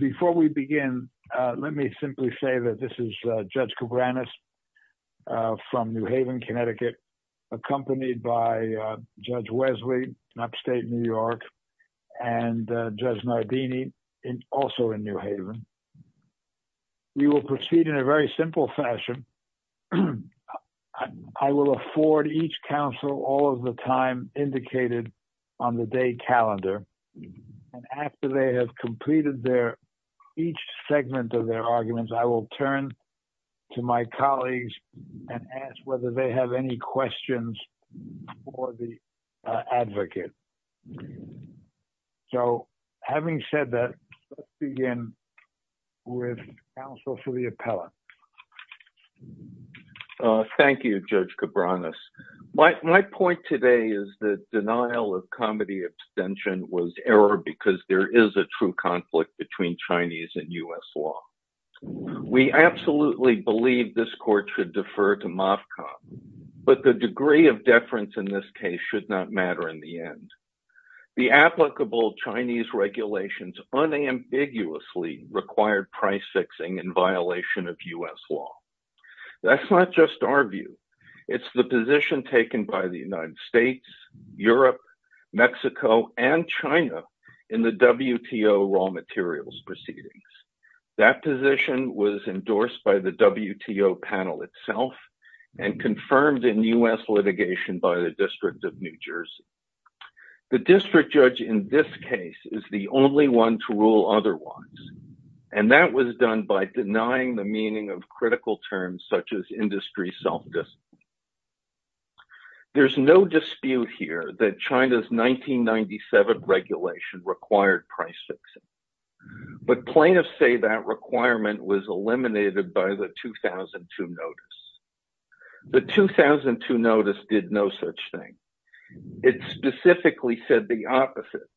Before we begin, let me simply say that this is Judge Koubranis from New Haven, Connecticut, accompanied by Judge Wesley, upstate New York, and Judge Nardini, also in New Haven. We will proceed in a very simple fashion. I will afford each counsel all of the time indicated on the day calendar, and after they have completed each segment of their arguments, I will turn to my colleagues and ask whether they have any questions for the advocate. So having said that, let's begin with counsel for the appellant. Thank you, Judge Koubranis. My point today is that denial of comedy abstention was error because there is a true conflict between Chinese and U.S. law. We absolutely believe this court should defer to Moffcott, but the degree of deference in this case should not matter in the end. The applicable Chinese regulations unambiguously required price fixing in violation of U.S. law. That's not just our view. It's the position taken by the United States, Europe, Mexico, and China in the WTO raw materials proceedings. That position was endorsed by the WTO panel itself and confirmed in U.S. litigation by the District of New Jersey. The district judge in this case is the only one to rule otherwise, and that was done by critical terms such as industry self-discipline. There's no dispute here that China's 1997 regulation required price fixing, but plaintiffs say that requirement was eliminated by the 2002 notice. The 2002 notice did no such thing. It specifically said the opposite,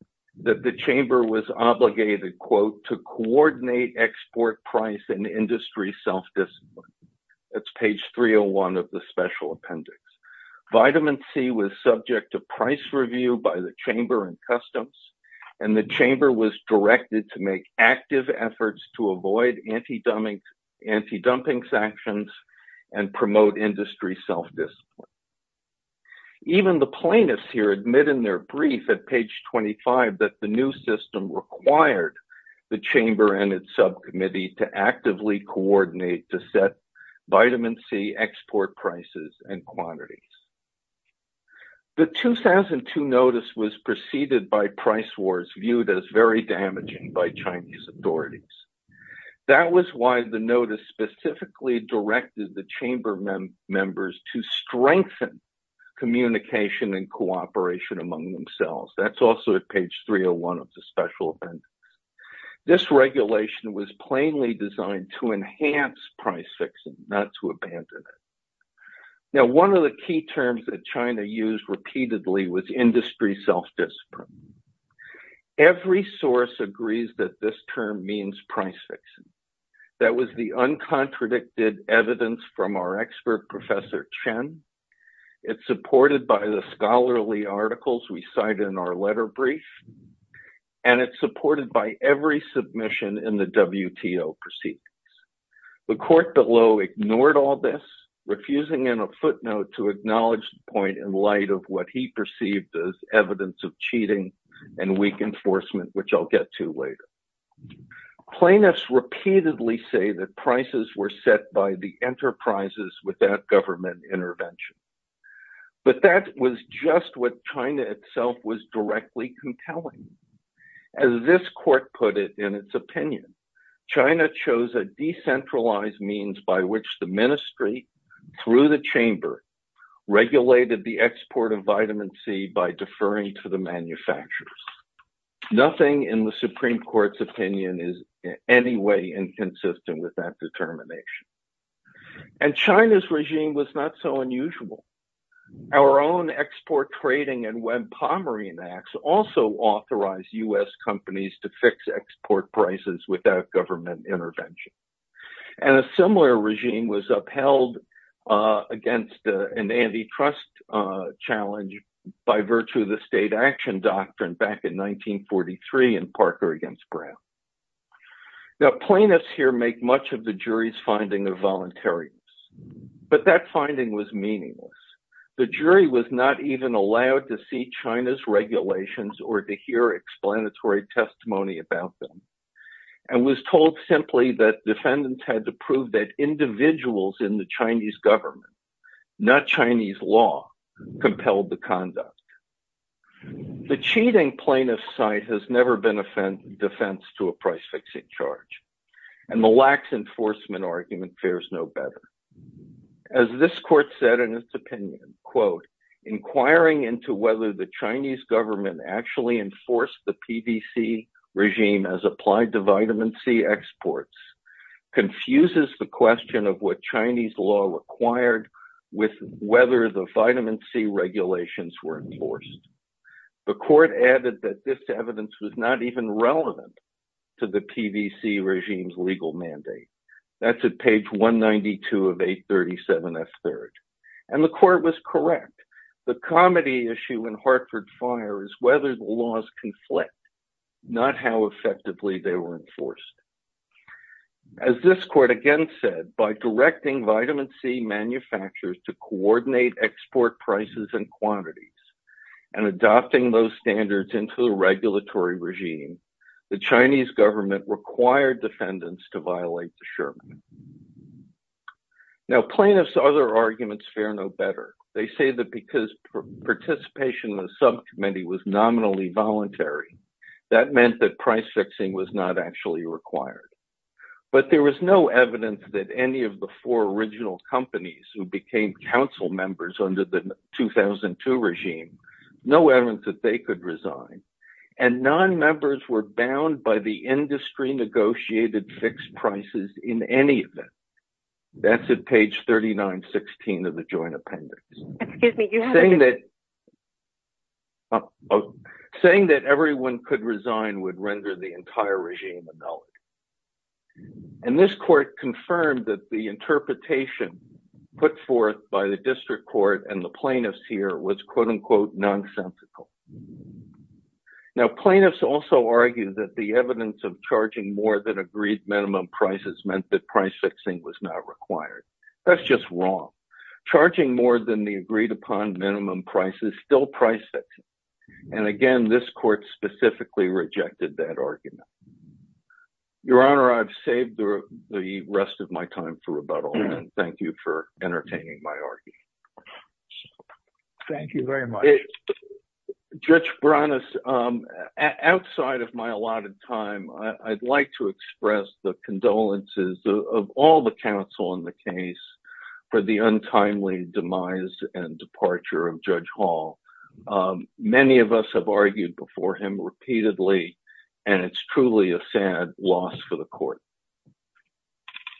that the chamber was obligated, quote, to coordinate export price and industry self-discipline. That's page 301 of the special appendix. Vitamin C was subject to price review by the chamber and customs, and the chamber was directed to make active efforts to avoid anti-dumping sanctions and promote industry self-discipline. Even the plaintiffs here admit in their brief at page 25 that the new system required the subcommittee to actively coordinate to set vitamin C export prices and quantities. The 2002 notice was preceded by price wars viewed as very damaging by Chinese authorities. That was why the notice specifically directed the chamber members to strengthen communication and cooperation among themselves. That's also at page 301 of the special appendix. This regulation was plainly designed to enhance price fixing, not to abandon it. Now one of the key terms that China used repeatedly was industry self-discipline. Every source agrees that this term means price fixing. That was the uncontradicted evidence from our expert, Professor Chen. It's supported by the scholarly articles we cite in our letter brief, and it's supported by every submission in the WTO proceedings. The court below ignored all this, refusing in a footnote to acknowledge the point in light of what he perceived as evidence of cheating and weak enforcement, which I'll get to later. Plaintiffs repeatedly say that prices were set by the enterprises with that government intervention. But that was just what China itself was directly compelling. As this court put it in its opinion, China chose a decentralized means by which the ministry, through the chamber, regulated the export of vitamin C by deferring to the manufacturers. Nothing in the Supreme Court's opinion is in any way inconsistent with that determination. And China's regime was not so unusual. Our own Export Trading and Web Pomerance Acts also authorized U.S. companies to fix export prices without government intervention. And a similar regime was upheld against an antitrust challenge by virtue of the State Action Doctrine back in 1943 in Parker v. Brown. Plaintiffs here make much of the jury's finding of voluntarians. But that finding was meaningless. The jury was not even allowed to see China's regulations or to hear explanatory testimony about them, and was told simply that defendants had to prove that individuals in the Chinese government, not Chinese law, compelled the conduct. The cheating plaintiff's side has never been a defense to a price-fixing charge. And the lax enforcement argument fares no better. As this court said in its opinion, quote, inquiring into whether the Chinese government actually enforced the PDC regime as applied to vitamin C exports confuses the question of what Chinese law required with whether the vitamin C regulations were enforced. The court added that this evidence was not even relevant to the PDC regime's legal mandate. That's at page 192 of 837S3. And the court was correct. The comedy issue in Hartford Fire is whether the laws conflict, not how effectively they were enforced. As this court again said, by directing vitamin C manufacturers to coordinate export prices and quantities, and adopting those standards into the regulatory regime, the Chinese government required defendants to violate the Sherman. Now plaintiffs' other arguments fare no better. They say that because participation in the subcommittee was nominally voluntary, that meant that price-fixing was not actually required. But there was no evidence that any of the four original companies who became council members under the 2002 regime, no evidence that they could resign. And non-members were bound by the industry-negotiated fixed prices in any event. That's at page 3916 of the joint appendix. Saying that everyone could resign would render the entire regime a null. And this court confirmed that the interpretation put forth by the district court and the plaintiffs here was quote-unquote nonsensical. Now plaintiffs also argued that the evidence of charging more than agreed minimum prices meant that price-fixing was not required. That's just wrong. Charging more than the agreed-upon minimum price is still price-fixing. And again, this court specifically rejected that argument. Your Honor, I've saved the rest of my time for rebuttal, and thank you for entertaining my argument. Thank you very much. Judge Branis, outside of my allotted time, I'd like to express the condolences of all the counsel in the case for the untimely demise and departure of Judge Hall. Many of us have argued before him repeatedly, and it's truly a sad loss for the court.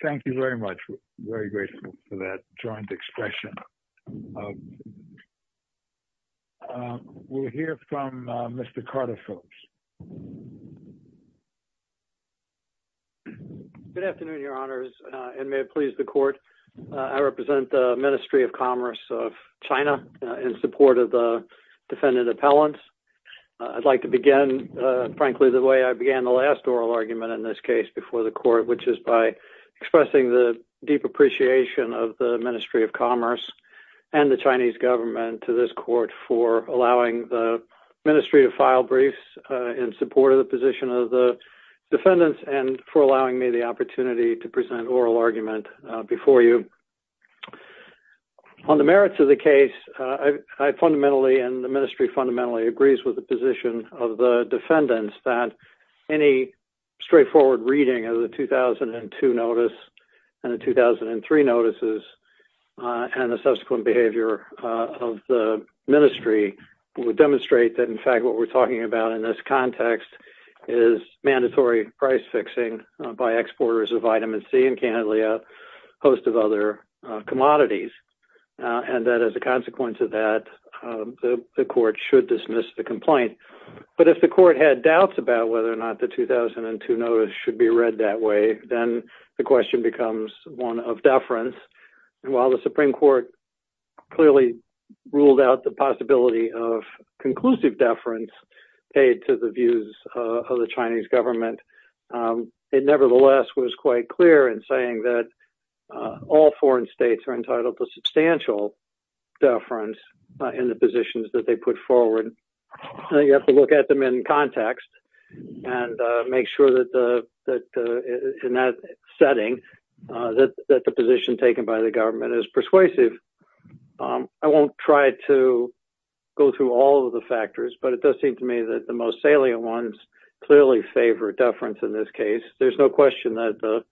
Thank you very much. We're very grateful for that joint expression. We'll hear from Mr. Carter Phillips. Good afternoon, Your Honors, and may it please the court, I represent the Ministry of Commerce of China in support of the defendant appellants. I'd like to begin, frankly, the way I began the last oral argument in this case before the court, which is by expressing the deep appreciation of the Ministry of Commerce and the Chinese government to this court for allowing the Ministry to file briefs in support of the position of the defendants and for allowing me the opportunity to present oral argument before you. On the merits of the case, I fundamentally and the Ministry fundamentally agrees with the position of the defendants that any straightforward reading of the 2002 notice and the 2003 notices and the subsequent behavior of the Ministry would demonstrate that, in fact, what we're talking about in this context is mandatory price fixing by exporters of vitamin C and, candidly, a host of other commodities, and that as a consequence of that, the court should dismiss the complaint. But if the court had doubts about whether or not the 2002 notice should be read that way, then the question becomes one of deference, and while the Supreme Court clearly ruled out the possibility of conclusive deference paid to the views of the Chinese government, it nevertheless was quite clear in saying that all foreign states are entitled to substantial deference in the positions that they put forward, and you have to look at them in context and make sure that, in that setting, that the position taken by the government is persuasive. I won't try to go through all of the factors, but it does seem to me that the most salient ones clearly favor deference in this case. There's no question that the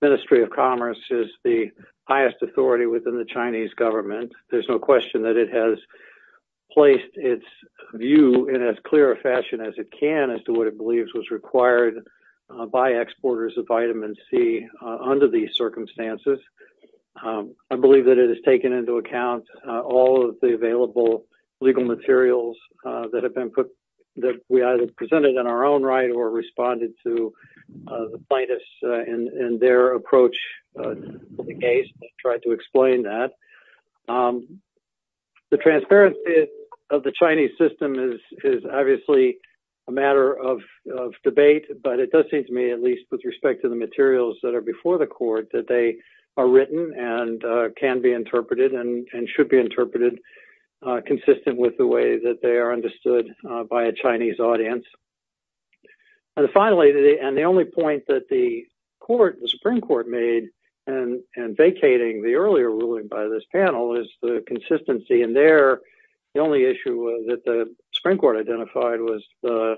Ministry of Commerce is the highest authority within the Chinese government. There's no question that it has placed its view in as clear a fashion as it can as to what it believes was required by exporters of vitamin C under these circumstances. I believe that it has taken into account all of the available legal materials that have been put, that we either presented in our own right or responded to the plaintiffs in their approach to the case and tried to explain that. The transparency of the Chinese system is obviously a matter of debate, but it does seem to me, at least with respect to the materials that are before the court, that they are written and can be interpreted and should be interpreted consistent with the way that they are understood by a Chinese audience. And finally, and the only point that the court, the Supreme Court, made in vacating the earlier ruling by this panel, is the consistency in there. The only issue that the Supreme Court identified was the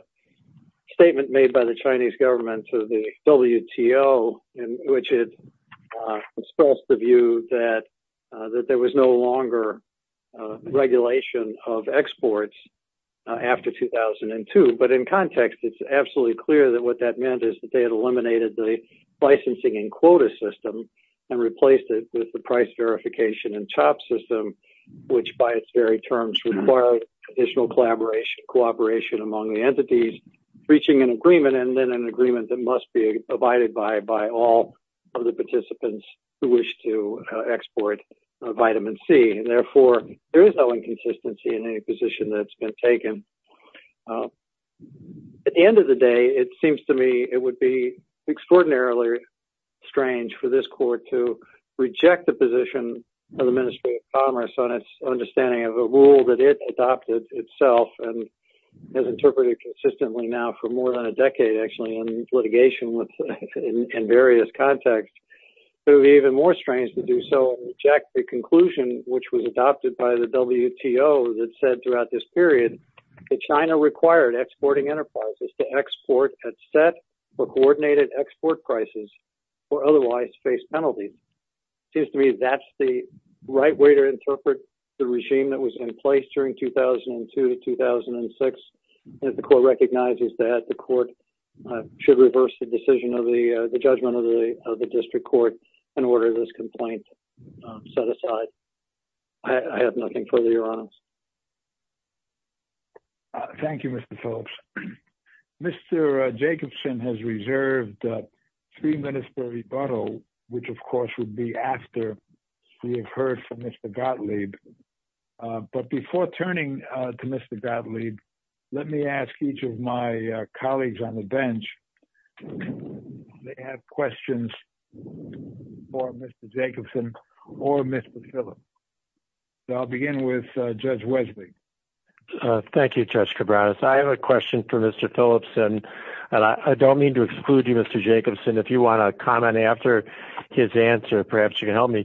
statement made by the Chinese government to the WTO, in which it expressed the view that there was no longer regulation of exports after 2002. But in context, it's absolutely clear that what that meant is that they had eliminated the licensing and quota system and replaced it with the price verification and top system, which by its very terms required additional collaboration among the entities, reaching an agreement and then an agreement that must be abided by by all of the participants who wish to export vitamin C. Therefore, there is no inconsistency in any position that's been taken. At the end of the day, it seems to me it would be extraordinarily strange for this court to reject the position of the Ministry of Commerce on its understanding of a rule that it adopted itself and has interpreted consistently now for more than a decade, actually, in litigation with in various contexts. It would be even more strange to do so and reject the conclusion which was adopted by the WTO that said throughout this period that China required exporting enterprises to export at set or coordinated export prices or otherwise face penalties. It seems to me that's the right way to interpret the regime that was in place during 2002 to 2006. The court recognizes that the court should reverse the decision of the judgment of the district court in order this complaint set aside. I have nothing further. Your Honor. Thank you, Mr. Phillips. Mr. Jacobson has reserved three minutes for rebuttal, which, of course, would be after we have heard from Mr. Gottlieb. But before turning to Mr. Gottlieb, let me ask each of my colleagues on the bench if they have any questions. I'll begin with Judge Wesley. Thank you, Judge Cabranes. I have a question for Mr. Phillips, and I don't mean to exclude you, Mr. Jacobson. If you want to comment after his answer, perhaps you can help me.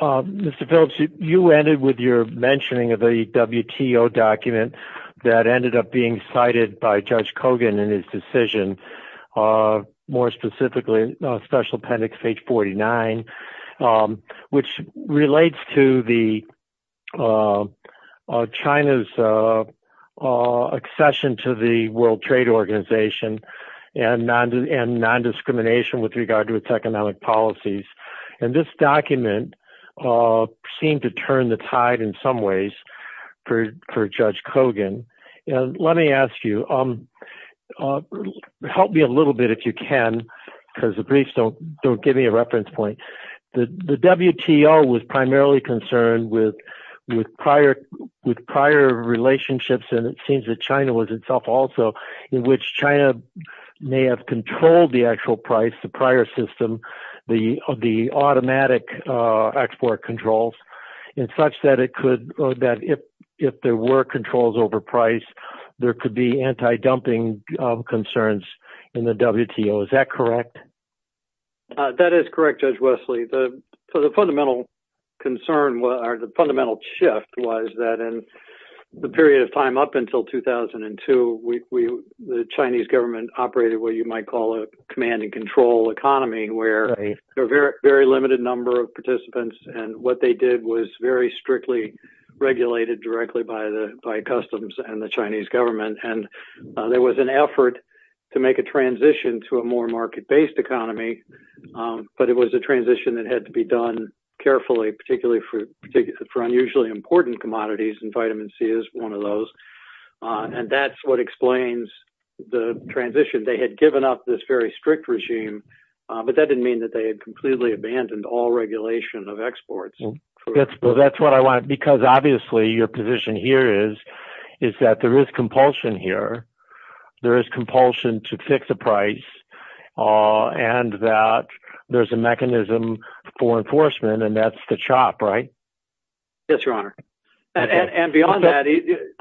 Mr. Phillips, you ended with your mentioning of a WTO document that ended up being cited by Judge Kogan in his decision, more specifically, Special Appendix H-49, which relates to China's accession to the World Trade Organization and non-discrimination with regard to its economic policies. And this document seemed to turn the tide in some ways for Judge Kogan. Let me ask you, help me a little bit, if you can, because the briefs don't give me a reference point. The WTO was primarily concerned with prior relationships, and it seems that China was itself also, in which China may have controlled the actual price, the prior system, of the automatic export controls, in such that if there were controls over price, there could be anti-dumping concerns in the WTO. Is that correct? That is correct, Judge Wesley. So the fundamental concern, or the fundamental shift, was that in the period of time up until 2002, the Chinese government operated what you might call a command and control economy, where a very limited number of participants, and what they did was very strictly regulated directly by customs and the Chinese government. There was an effort to make a transition to a more market-based economy, but it was a transition that had to be done carefully, particularly for unusually important commodities, and vitamin C is one of those. And that's what explains the transition. They had given up this very strict regime, but that didn't mean that they had completely abandoned all regulation of exports. That's what I want, because obviously your position here is that there is compulsion here, there is compulsion to fix the price, and that there's a mechanism for enforcement, and that's the CHOP, right? Yes, Your Honor. And beyond that, you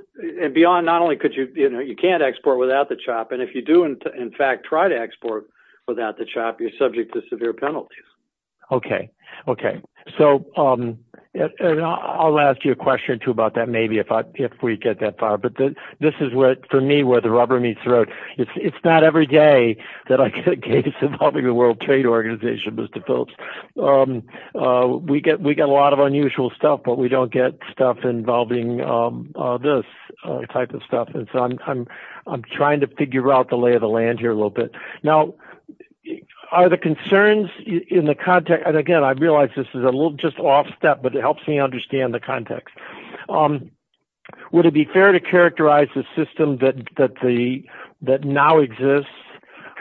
can't export without the CHOP, and if you do, in fact, try to export without the CHOP, you're subject to severe penalties. Okay, okay. So I'll ask you a question or two about that, maybe, if we get that far, but this is, for me, where the rubber meets the road. It's not every day that I get a case involving the World Trade Organization, Mr. Phillips. We get a lot of unusual stuff, but we don't get stuff involving this type of stuff, and so I'm trying to figure out the lay of the land here a little bit. Now, are the concerns in the context, and again, I realize this is a little just off step, but it helps me understand the context. Would it be fair to characterize the system that now exists,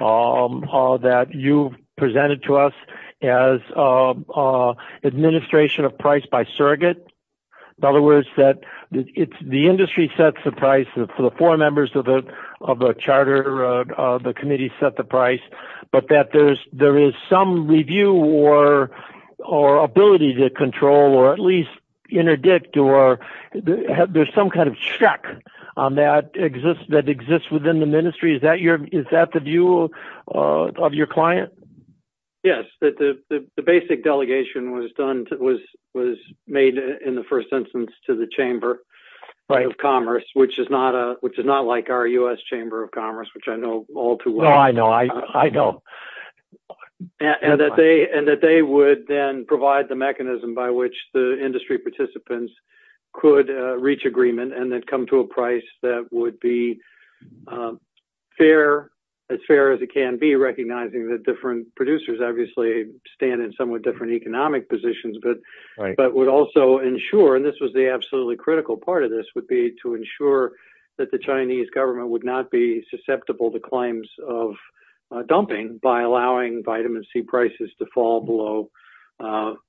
that you presented to us as administration of price by surrogate? In other words, that the industry sets the price for the four members of a charter, the committee set the price, but that there is some review or ability to control or at least interdict or there's some kind of check that exists within the ministry. Is that the view of your client? Yes, the basic delegation was made, in the first instance, to the Chamber of Commerce, which is not like our U.S. Chamber of Commerce, which I know all too well. Well, I know. And that they would then provide the mechanism by which the industry participants could reach agreement and then come to a price that would be as fair as it can be, recognizing that different producers obviously stand in somewhat different economic positions, but would also ensure, and this was the absolutely critical part of this, would be to ensure that the Chinese government would not be susceptible to claims of dumping by allowing vitamin C prices to fall below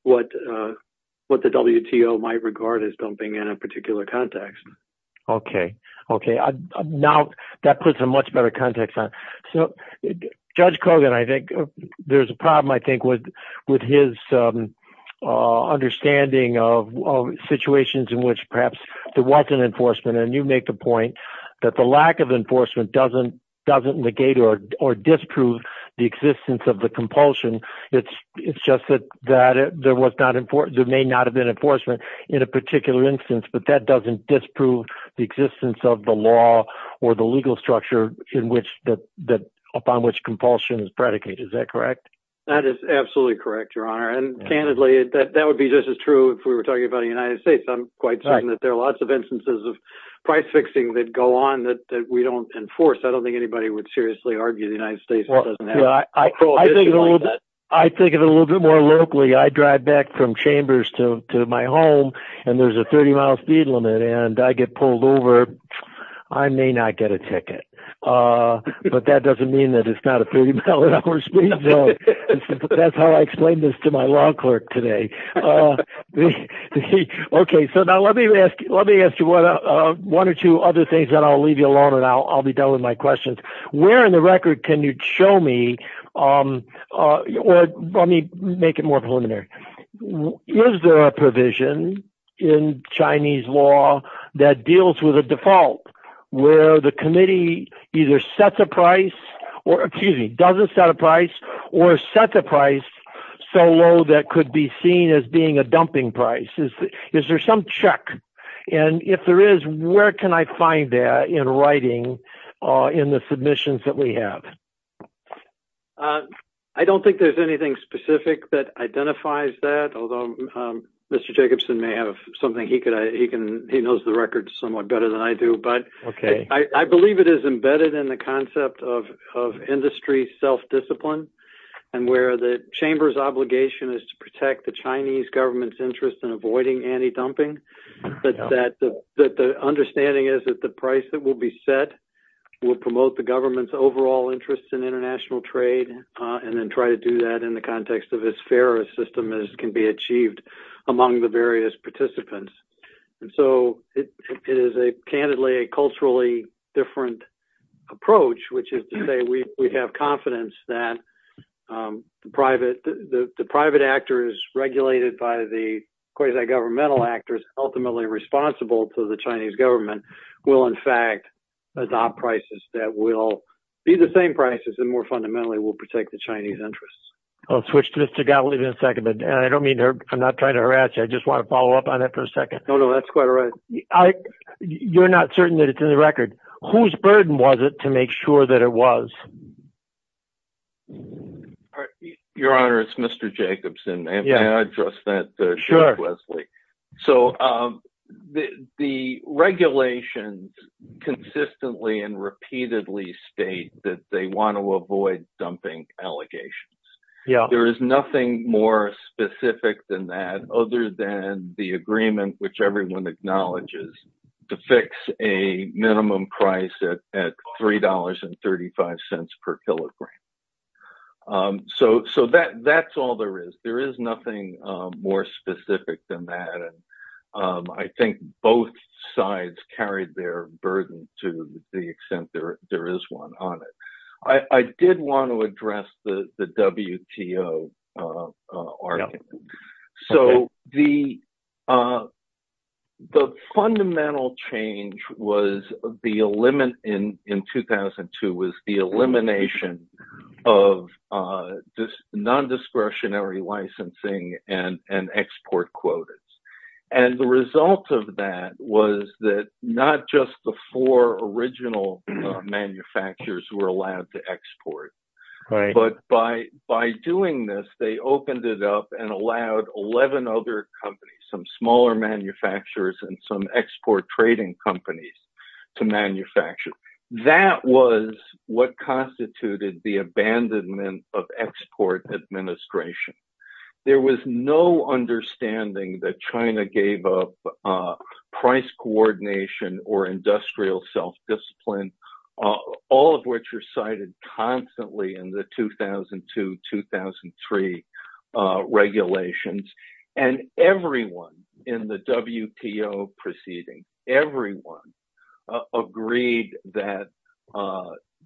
what the WTO might regard as dumping in a particular context. Okay, okay. Now, that puts a much better context on. Judge Kogan, I think, there's a problem, I think, with his understanding of situations in which perhaps there wasn't enforcement. And you make the point that the lack of enforcement doesn't negate or disprove the existence of the compulsion. It's just that there may not have been enforcement in a particular instance, but that doesn't disprove the existence of the law or the legal structure upon which compulsion is predicated. Is that correct? That is absolutely correct, Your Honor. And candidly, that would be just as true if we were talking about the United States. I'm quite certain that there are lots of instances of price fixing that go on that we don't enforce. I don't think anybody would seriously argue the United States doesn't have prohibition on that. I think of it a little bit more locally. I drive back from Chambers to my home, and there's a 30-mile speed limit, and I get pulled over. I may not get a ticket, but that doesn't mean that it's not a 30-mile-an-hour speed limit. That's how I explained this to my law clerk today. Okay, so now let me ask you one or two other things, then I'll leave you alone, and I'll be done with my questions. Where in the record can you show me, or let me make it more preliminary. Is there a provision in Chinese law that deals with a default where the committee either sets a price or, excuse me, doesn't set a price or sets a price so low that could be seen as being a dumping price? Is there some check? If there is, where can I find that in writing in the submissions that we have? I don't think there's anything specific that identifies that, although Mr. Jacobson may have something he knows the record somewhat better than I do, but I believe it is embedded in the concept of industry self-discipline and where the Chamber's obligation is to protect the Chinese government's interest in avoiding anti-dumping, that the understanding is that the price that will be set will promote the government's overall interest in international trade and then try to do that in the context of as fair a system as can be achieved among the various participants. And so it is candidly a culturally different approach, which is to say we have confidence that the private actors regulated by the quasi-governmental actors ultimately responsible to the Chinese government will in fact adopt prices that will be the same prices and more fundamentally will protect the Chinese interests. I'll switch to Mr. Gottlieb in a second, but I don't mean to—I'm not trying to harass you, I just want to follow up on that for a second. No, no, that's quite all right. You're not certain that it's in the record. Whose burden was it to make sure that it was? All right. Your Honor, it's Mr. Jacobson. May I address that to Judge Wesley? So the regulations consistently and repeatedly state that they want to avoid dumping allegations. There is nothing more specific than that other than the agreement which everyone acknowledges to fix a minimum price at $3.35 per kilogram. So that's all there is. There is nothing more specific than that. And I think both sides carried their burden to the extent there is one on it. I did want to address the WTO argument. So the fundamental change in 2002 was the elimination of non-discretionary licensing and export quotas. And the result of that was that not just the four original manufacturers were allowed to 11 other companies, some smaller manufacturers and some export trading companies to manufacture. That was what constituted the abandonment of export administration. There was no understanding that China gave up price coordination or industrial self-discipline, all of which are cited constantly in the 2002-2003 regulations. And everyone in the WTO proceeding, everyone agreed that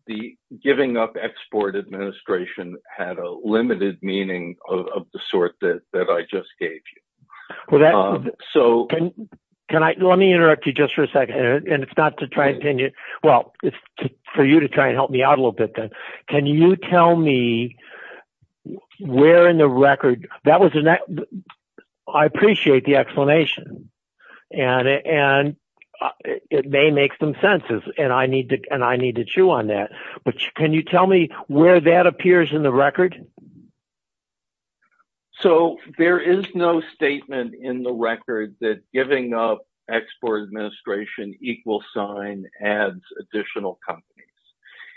the giving up export administration had a limited meaning of the sort that I just gave you. Let me interrupt you just for a second, and it's not to try and pin you. Well, it's for you to try and help me out a little bit then. Can you tell me where in the record that was in that? I appreciate the explanation. And it may make some sense, and I need to chew on that. But can you tell me where that appears in the record? So there is no statement in the record that giving up export administration equals sign adds additional companies.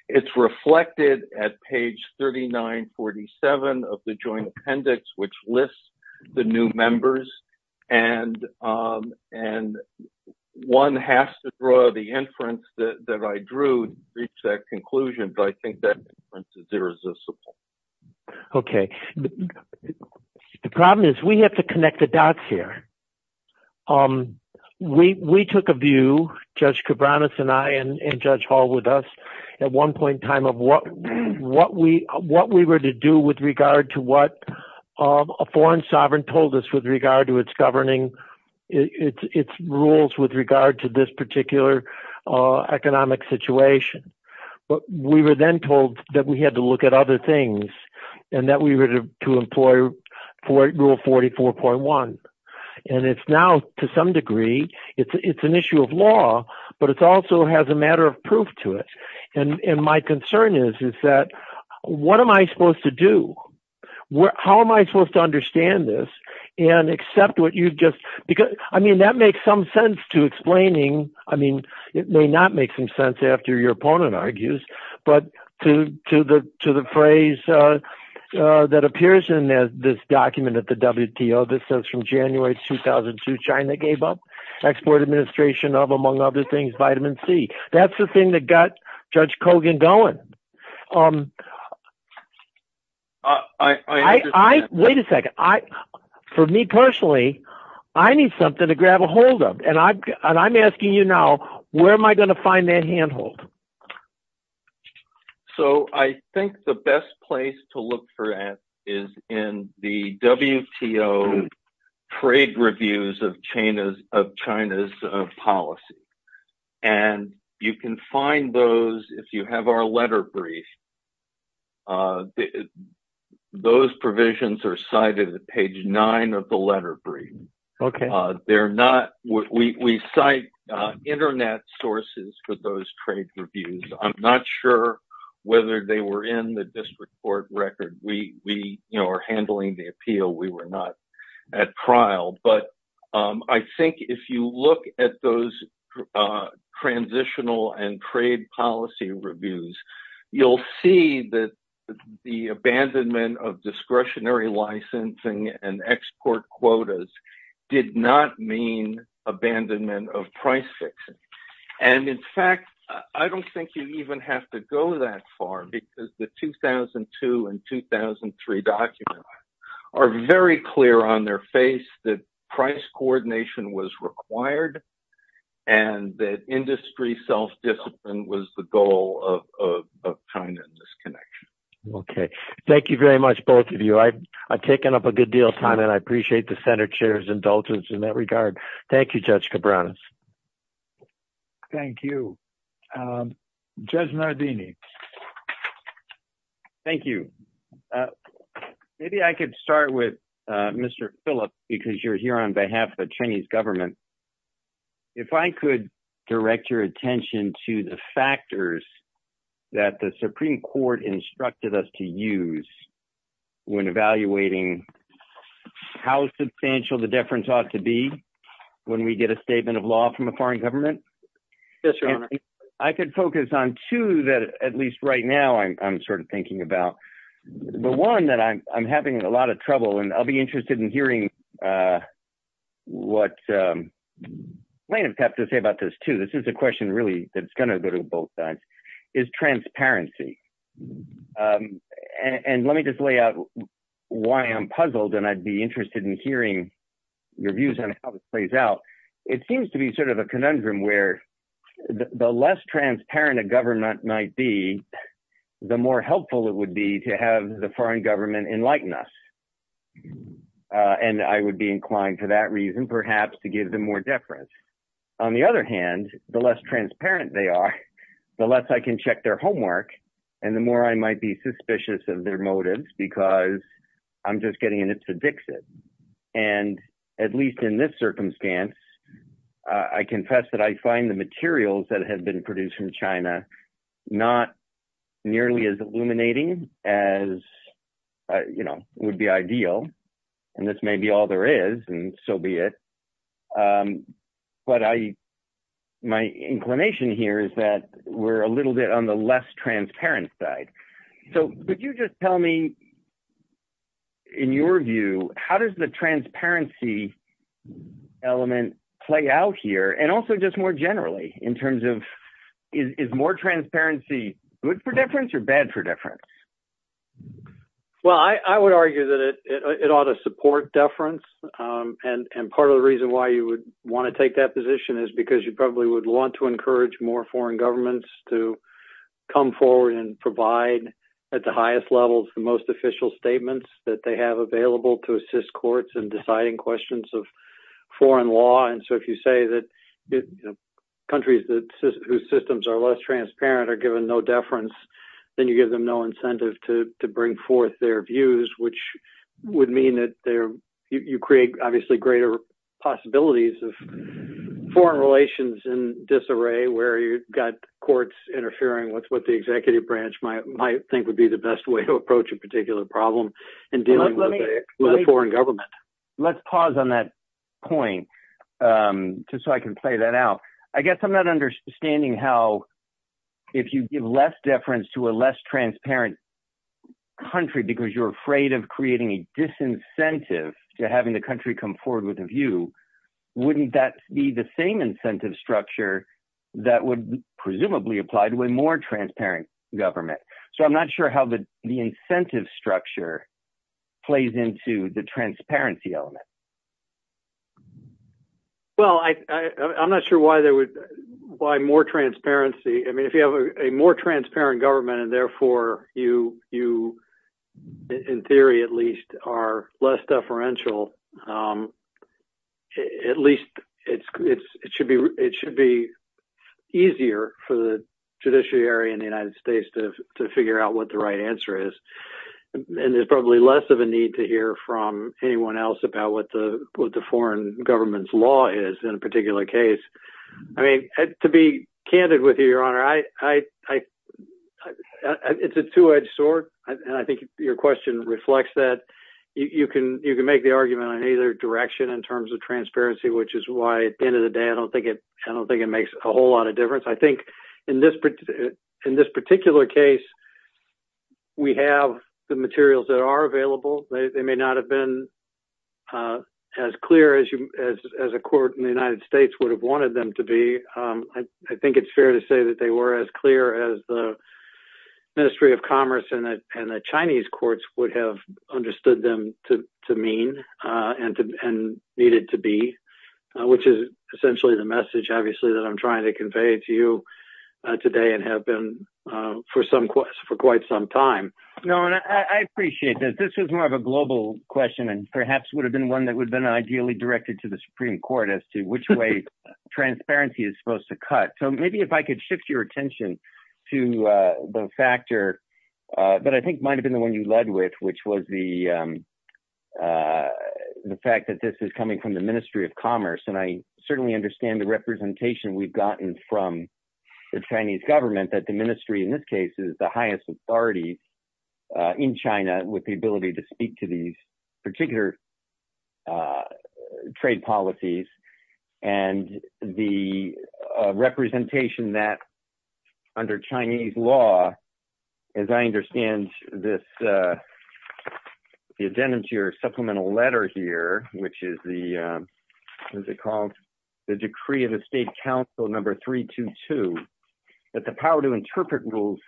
It's reflected at page 3947 of the joint appendix, which lists the new members. And one has to draw the inference that I drew to reach that conclusion. But I think that inference is irresistible. Okay. The problem is we have to connect the dots here. Um, we took a view, Judge Cabranes and I, and Judge Hall with us at one point in time of what we were to do with regard to what a foreign sovereign told us with regard to its governing, its rules with regard to this particular economic situation. But we were then told that we had to look at other things, and that we were to employ Rule 44.1. And it's now, to some degree, it's an issue of law, but it also has a matter of proof to it. And my concern is that what am I supposed to do? How am I supposed to understand this and accept what you've just – I mean, that makes some sense to explaining – I mean, it may not make some sense after your opponent argues, but to the phrase that appears in this document at the WTO, this says, from January 2002, China gave up export administration of, among other things, vitamin C. That's the thing that got Judge Kogan going. Wait a second. For me personally, I need something to grab a hold of. And I'm asking you now, where am I going to find that handhold? So, I think the best place to look for that is in the WTO trade reviews of China's policy. And you can find those if you have our letter brief. Those provisions are cited at page nine of the letter brief. They're not – we cite internet sources for those trade reviews. I'm not sure whether they were in the district court record. We are handling the appeal. We were not at trial. But I think if you look at those transitional and trade policy reviews, you'll see that the abandonment of discretionary licensing and export quotas did not mean abandonment of price fixing. And in fact, I don't think you even have to go that far because the 2002 and 2003 documents are very clear on their face that price coordination was required and that industry self-discipline was the goal of China in this connection. Okay. Thank you very much, both of you. I've taken up a good deal of time and I appreciate the Senate chair's indulgence in that regard. Thank you, Judge Cabranes. Thank you. Judge Nardini. Thank you. Maybe I could start with Mr. Phillips because you're here on behalf of the Chinese government. If I could direct your attention to the factors that the Supreme Court instructed us to use when evaluating how substantial the difference ought to be when we get a statement of law from a foreign government, I could focus on two that at least right now I'm sort of thinking about. The one that I'm having a lot of trouble and I'll be interested in hearing what plaintiffs have to say about this too. This is a question really that's going to go to both sides, is transparency. And let me just lay out why I'm puzzled and I'd be interested in hearing your views on how this plays out. It seems to be sort of a conundrum where the less transparent a government might be, the more helpful it would be to have the foreign government enlighten us. And I would be inclined to that reason, perhaps to give them more deference. On the other hand, the less transparent they are, the less I can check their homework and the more I might be suspicious of their motives because I'm just getting in its addictive. And at least in this circumstance, I confess that I find the materials that have been produced from China not nearly as illuminating as would be ideal. And this may be all there is and so be it. But my inclination here is that we're a little bit on the less transparent side. So could you just tell me, in your view, how does the transparency element play out here? And also just more generally in terms of is more transparency good for deference or bad for deference? Well, I would argue that it ought to support deference. And part of the reason why you would want to take that position is because you probably would want to encourage more foreign governments to come forward and provide at the highest level the most official statements that they have available to assist courts in deciding questions of foreign law. And so if you say that countries whose systems are less transparent are given no deference, then you give them no incentive to bring forth their views, which would mean that you create, obviously, greater possibilities of foreign relations in disarray where you've got courts interfering with what the executive branch might think would be the best way to approach a particular problem in dealing with a foreign government. Let's pause on that point just so I can play that out. I guess I'm not understanding how if you give less deference to a less transparent country because you're afraid of creating a disincentive to having the country come forward with a view, wouldn't that be the same incentive structure that would presumably apply to a more transparent government? So I'm not sure how the incentive structure plays into the transparency element. Well, I'm not sure why more transparency, I mean, if you have a more transparent government and therefore you, in theory, at least, are less deferential, at least it should be easier for the judiciary in the United States to figure out what the right answer is. And there's probably less of a need to hear from anyone else about what the foreign government's law is in a particular case. I mean, to be candid with you, Your Honor, it's a two-edged sword, and I think your question reflects that. You can make the argument in either direction in terms of transparency, which is why, at the end of the day, I don't think it makes a whole lot of difference. I think in this particular case, we have the materials that are available. They may not have been as clear as a court in the United States would have wanted them to be. I think it's fair to say that they were as clear as the Ministry of Commerce and the Chinese courts would have understood them to mean and needed to be, which is essentially the message, obviously, that I'm trying to convey to you today and have been for quite some time. No, and I appreciate this. This is more of a global question and perhaps would have been one that would have been ideally directed to the Supreme Court as to which way transparency is supposed to cut. So maybe if I could shift your attention to the factor that I think might have been the one you led with, which was the fact that this is coming from the Ministry of Commerce. And I certainly understand the representation we've gotten from the Chinese government that the Ministry, in this case, is the highest authority in China with the ability to speak to these particular trade policies. And the representation that under Chinese law, as I understand this, it's in your supplemental letter here, which is the, what is it called? The decree of the state council number 322, that the power to interpret rules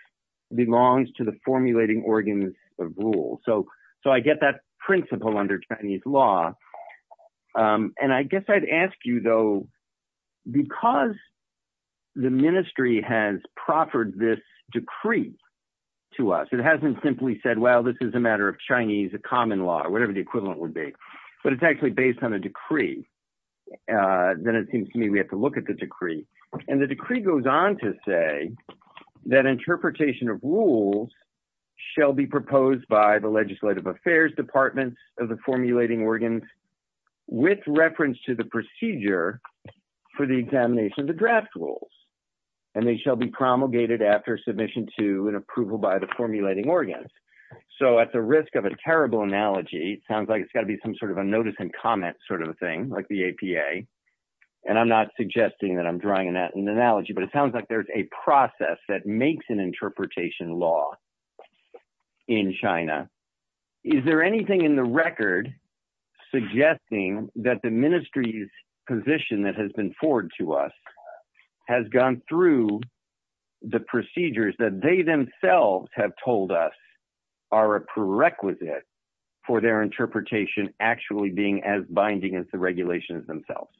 belongs to the formulating organs of rule. So I get that principle under Chinese law. And I guess I'd ask you though, because the ministry has proffered this decree to us, it hasn't simply said, well, this is a matter of Chinese common law or whatever the equivalent then it seems to me we have to look at the decree. And the decree goes on to say that interpretation of rules shall be proposed by the legislative affairs departments of the formulating organs with reference to the procedure for the examination of the draft rules. And they shall be promulgated after submission to an approval by the formulating organs. So at the risk of a terrible analogy, it sounds like it's got to be some sort of a notice and comments sort of a thing like the APA. And I'm not suggesting that I'm drawing that in the analogy, but it sounds like there's a process that makes an interpretation law in China. Is there anything in the record suggesting that the ministry's position that has been forward to us has gone through the procedures that they themselves have told us are a prerequisite for their interpretation actually being as binding as the regulations themselves?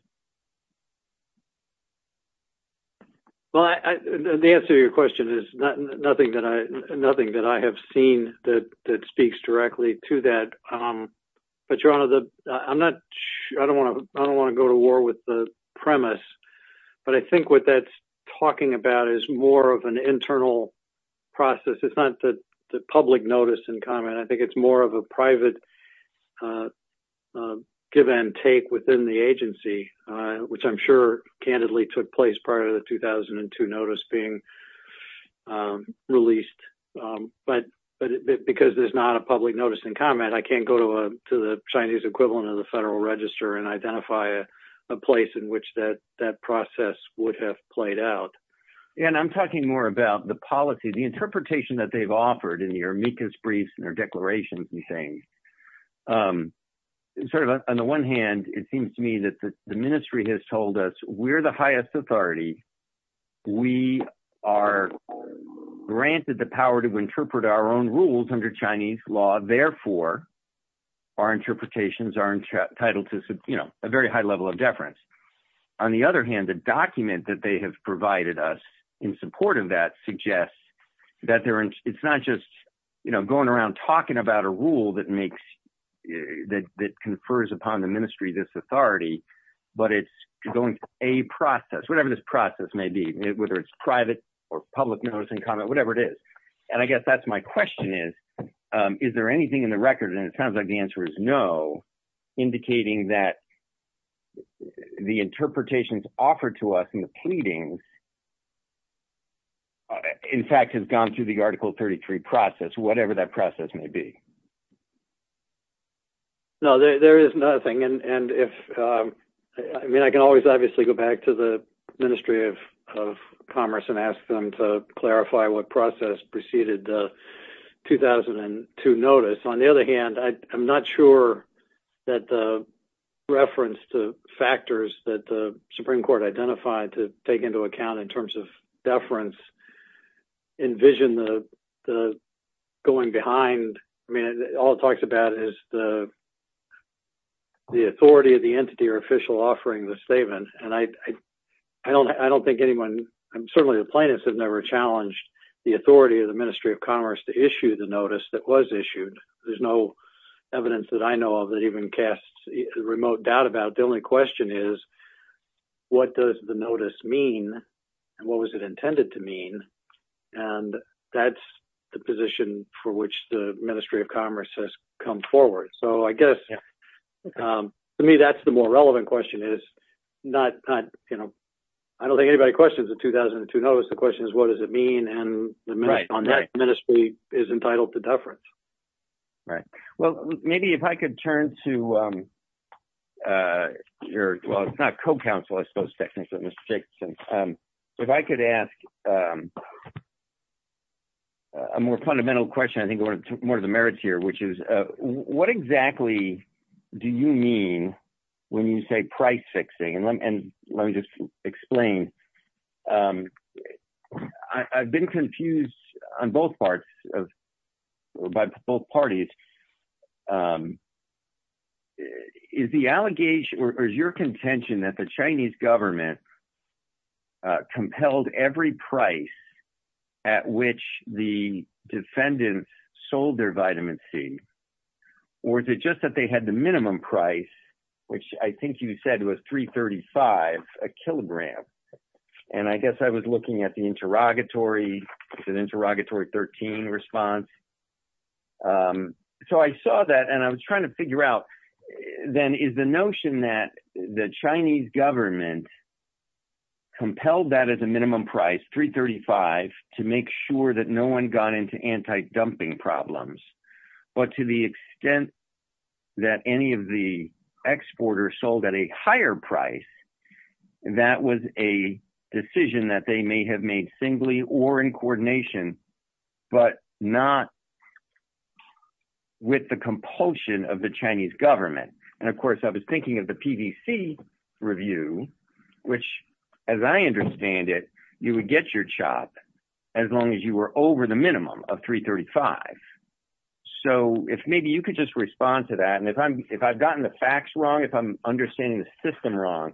Well, the answer to your question is nothing that I have seen that speaks directly to that. But I don't want to go to war with the premise. But I think what that's talking about is more of an internal process. It's not the public notice and comment. I think it's more of a private give and take within the agency, which I'm sure candidly took place prior to the 2002 notice being released. But because there's not a public notice and comment, I can't go to the Chinese equivalent of the Federal Register and identify a place in which that process would have played out. And I'm talking more about the policy, the interpretation that they've offered in your briefs and their declarations and things. On the one hand, it seems to me that the ministry has told us we're the highest authority. We are granted the power to interpret our own rules under Chinese law. Therefore, our interpretations are entitled to a very high level of deference. On the other hand, the document that they have provided us in support of that suggests that it's not just going around talking about a rule that confers upon the ministry this authority, but it's going through a process, whatever this process may be, whether it's private or public notice and comment, whatever it is. And I guess that's my question is, is there anything in the record, and it sounds like the answer is no, indicating that the interpretations offered to us in the pleadings in fact, has gone through the Article 33 process, whatever that process may be. No, there is nothing. And if I mean, I can always obviously go back to the Ministry of Commerce and ask them to clarify what process preceded the 2002 notice. On the other hand, I'm not sure that the reference to factors that the Supreme Court identified to take into account in terms of deference, envision the going behind. I mean, all it talks about is the authority of the entity or official offering the statement. And I don't think anyone, certainly the plaintiffs have never challenged the authority of the Ministry of Commerce to issue the notice that was issued. There's no evidence that I know of that even casts remote doubt about it. The question is, what does the notice mean? What was it intended to mean? And that's the position for which the Ministry of Commerce has come forward. So I guess to me, that's the more relevant question is not, you know, I don't think anybody questions the 2002 notice. The question is, what does it mean? And the Ministry is entitled to deference. All right. Well, maybe if I could turn to your, well, it's not co-counselor, I suppose, Mr. Jacobson. If I could ask a more fundamental question, I think one of the merits here, which is what exactly do you mean when you say price fixing? And let me just explain. I've been confused on both parts of, by both parties, is the allegation, or is your contention that the Chinese government compelled every price at which the defendants sold their vitamin C, or is it just that they had the minimum price, which I think you said was $3.35 a kilogram? And I guess I was looking at the interrogatory, the interrogatory 13 response. So I saw that, and I was trying to figure out, then is the notion that the Chinese government compelled that as a minimum price, $3.35, to make sure that no one got into anti-dumping problems. But to the extent that any of the exporters sold at a higher price, that was a decision that they may have made singly or in coordination, but not with the compulsion of the Chinese government. And of course, I was thinking of the PVC review, which as I understand it, you would get your as long as you were over the minimum of $3.35. So if maybe you could just respond to that. And if I've gotten the facts wrong, if I'm understanding the system wrong,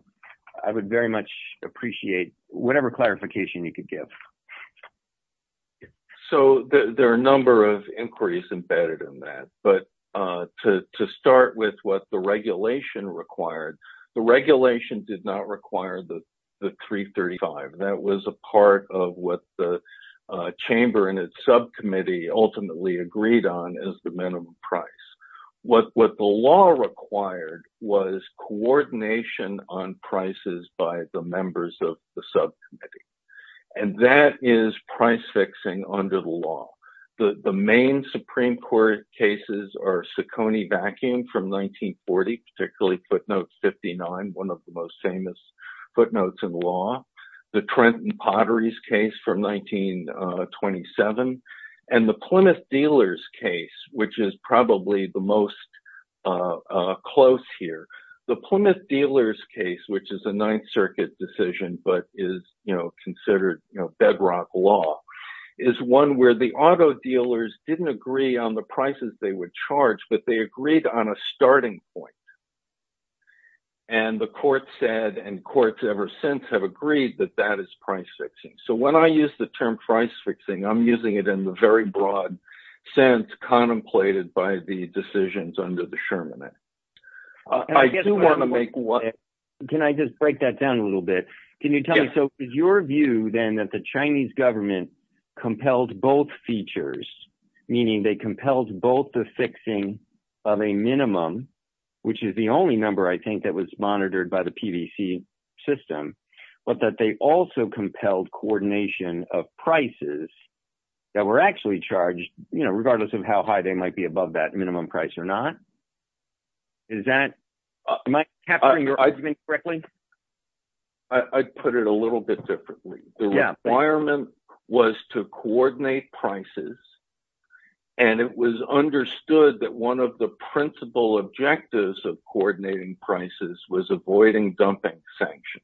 I would very much appreciate whatever clarification you could give. So there are a number of inquiries embedded in that. But to start with what the regulation required, the regulation did not require the $3.35. That was a part of what the chamber and its subcommittee ultimately agreed on as the minimum price. What the law required was coordination on prices by the members of the subcommittee. And that is price fixing under the law. The main Supreme Court cases are Saccone backing from 1940, particularly footnote 59, one of the most famous footnotes in law. The Trenton Potteries case from 1927, and the Plymouth Dealers case, which is probably the most close here. The Plymouth Dealers case, which is a Ninth Circuit decision, but is considered bedrock law, is one where the auto dealers didn't agree on the prices they would charge, but they agreed on a starting point. And the court said, and courts ever since have agreed that that is price fixing. So when I use the term price fixing, I'm using it in the very broad sense contemplated by the decisions under the Sherman Act. I do want to make one... Can I just break that down a little bit? Can you tell me, so is your view then that the Chinese government compelled both features, meaning they compelled both the fixing of a minimum, which is the only number I think that was monitored by the PVC system, but that they also compelled coordination of prices that were actually charged, you know, regardless of how high they might be above that minimum price or not? Is that, am I capturing your argument correctly? I'd put it a little bit differently. The requirement was to coordinate prices, and it was understood that one of the principal objectives of coordinating prices was avoiding dumping sanctions.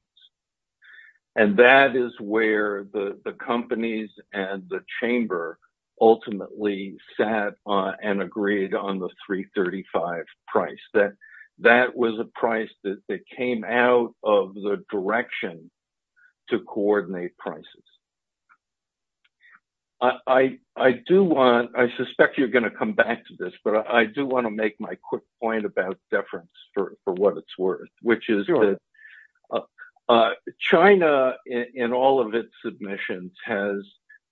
And that is where the companies and the chamber ultimately sat and agreed on the 335 price, that that was a price that came out of the direction to coordinate prices. I do want, I suspect you're going to come back to this, but I do want to make my quick point about deference for what it's worth, which is that China in all of its submissions has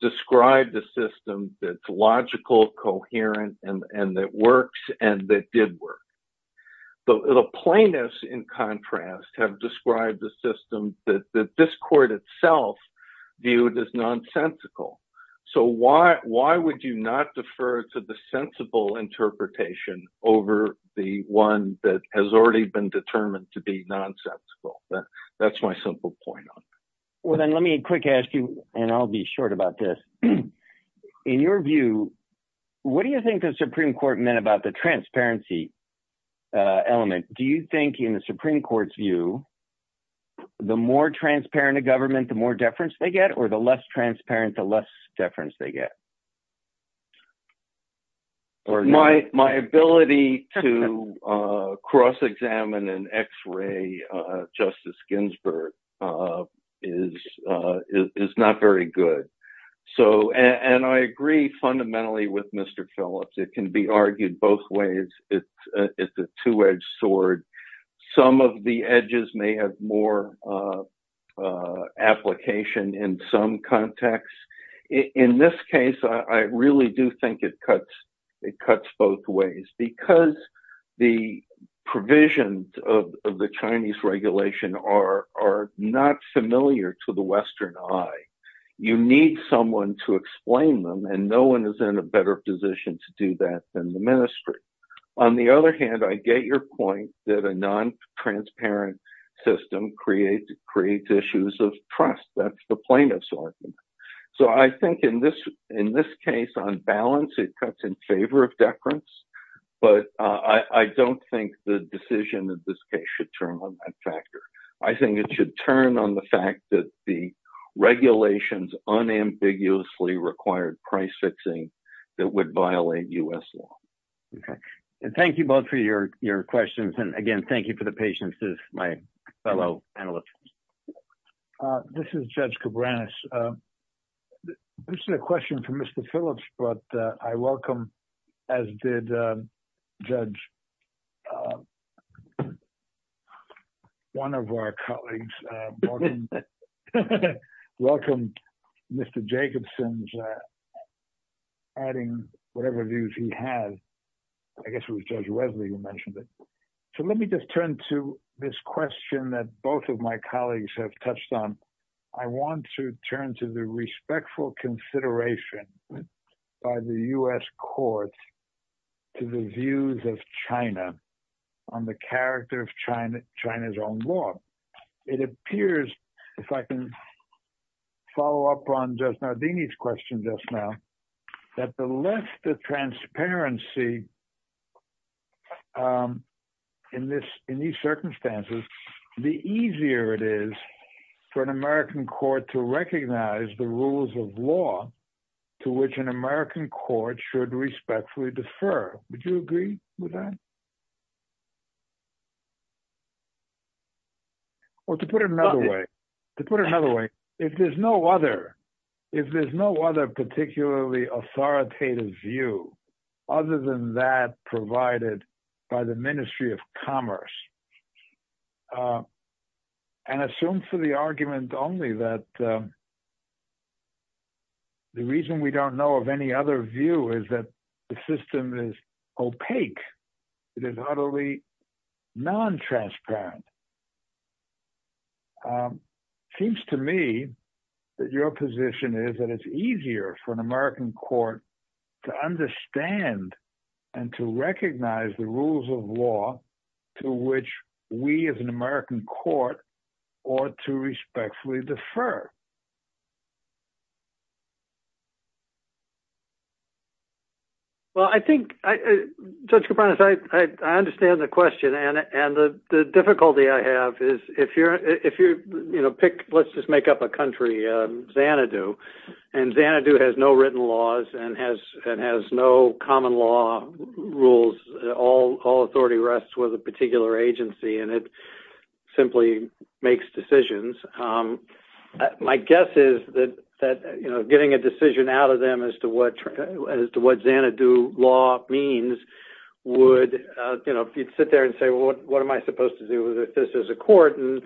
described the system that's logical, coherent, and that works and that did work. But the plaintiffs, in contrast, have described the system that this court itself viewed as nonsensical. So why would you not defer to the sensible interpretation over the one that has already been determined to be nonsensical? That's my simple point. Well, then let me quick ask you, and I'll be short about this. In your view, what do you think the Supreme Court meant about the transparency element? Do you think in the Supreme Court's view, the more transparent a government, the more deference they get, or the less transparent, the less deference they get? My ability to cross-examine an X-ray Justice Ginsburg is not very good. And I agree fundamentally with Mr. Phillips. It can be argued both ways. It's a two-edged sword. Some of the edges may have more application in some contexts. In this case, I really do think it cuts both ways, because the provisions of the Chinese regulation are not familiar to the Western eye. You need someone to explain them, and no one is in a better position to do that than the Ministry. On the other hand, I get your point that a non-transparent system creates issues of trust. That's the plaintiff's argument. So I think in this case, on balance, it cuts in favor of deference. But I don't think the decision of this case should turn on that factor. I think it should turn on the fact that the regulations unambiguously required price fixing that would violate U.S. law. Okay. And thank you both for your questions. And again, thank you for the patience of my fellow analysts. This is Judge Cabranes. This is a question for Mr. Phillips, but I welcome, as did Judge Ressler, one of our colleagues, welcome Mr. Jacobson's adding whatever views he has. I guess it was Judge Ressler who mentioned it. So let me just turn to this question that both of my colleagues have touched on. I want to turn to the respectful consideration by the U.S. court to the views of China on the character of China's own law. It appears, if I can follow up on Judge Nardini's question just now, that the less the transparency in these circumstances, the easier it is for an American court to recognize the rules of law to which an American court should respectfully defer. Would you agree with that? Or to put it another way, if there's no other particularly authoritative view other than that provided by the Ministry of Commerce, and assume for the argument only that the reason we don't know of any other view is that the system is opaque, it is utterly non-transparent, it seems to me that your position is that it's easier for an American court to understand and to recognize the rules of law to which we as an American court ought to respectfully defer. Well, I think, Judge Kapronis, I understand the question, and the difficulty I have is if you're, you know, pick, let's just make up a country, Xanadu, and Xanadu has no written laws and has no common law rules. All authority rests with a particular agency, and it simply makes decisions. My guess is that, you know, getting a decision out of them as to what Xanadu law means would, you know, you'd sit there and say, well, what am I supposed to do if this is a court? And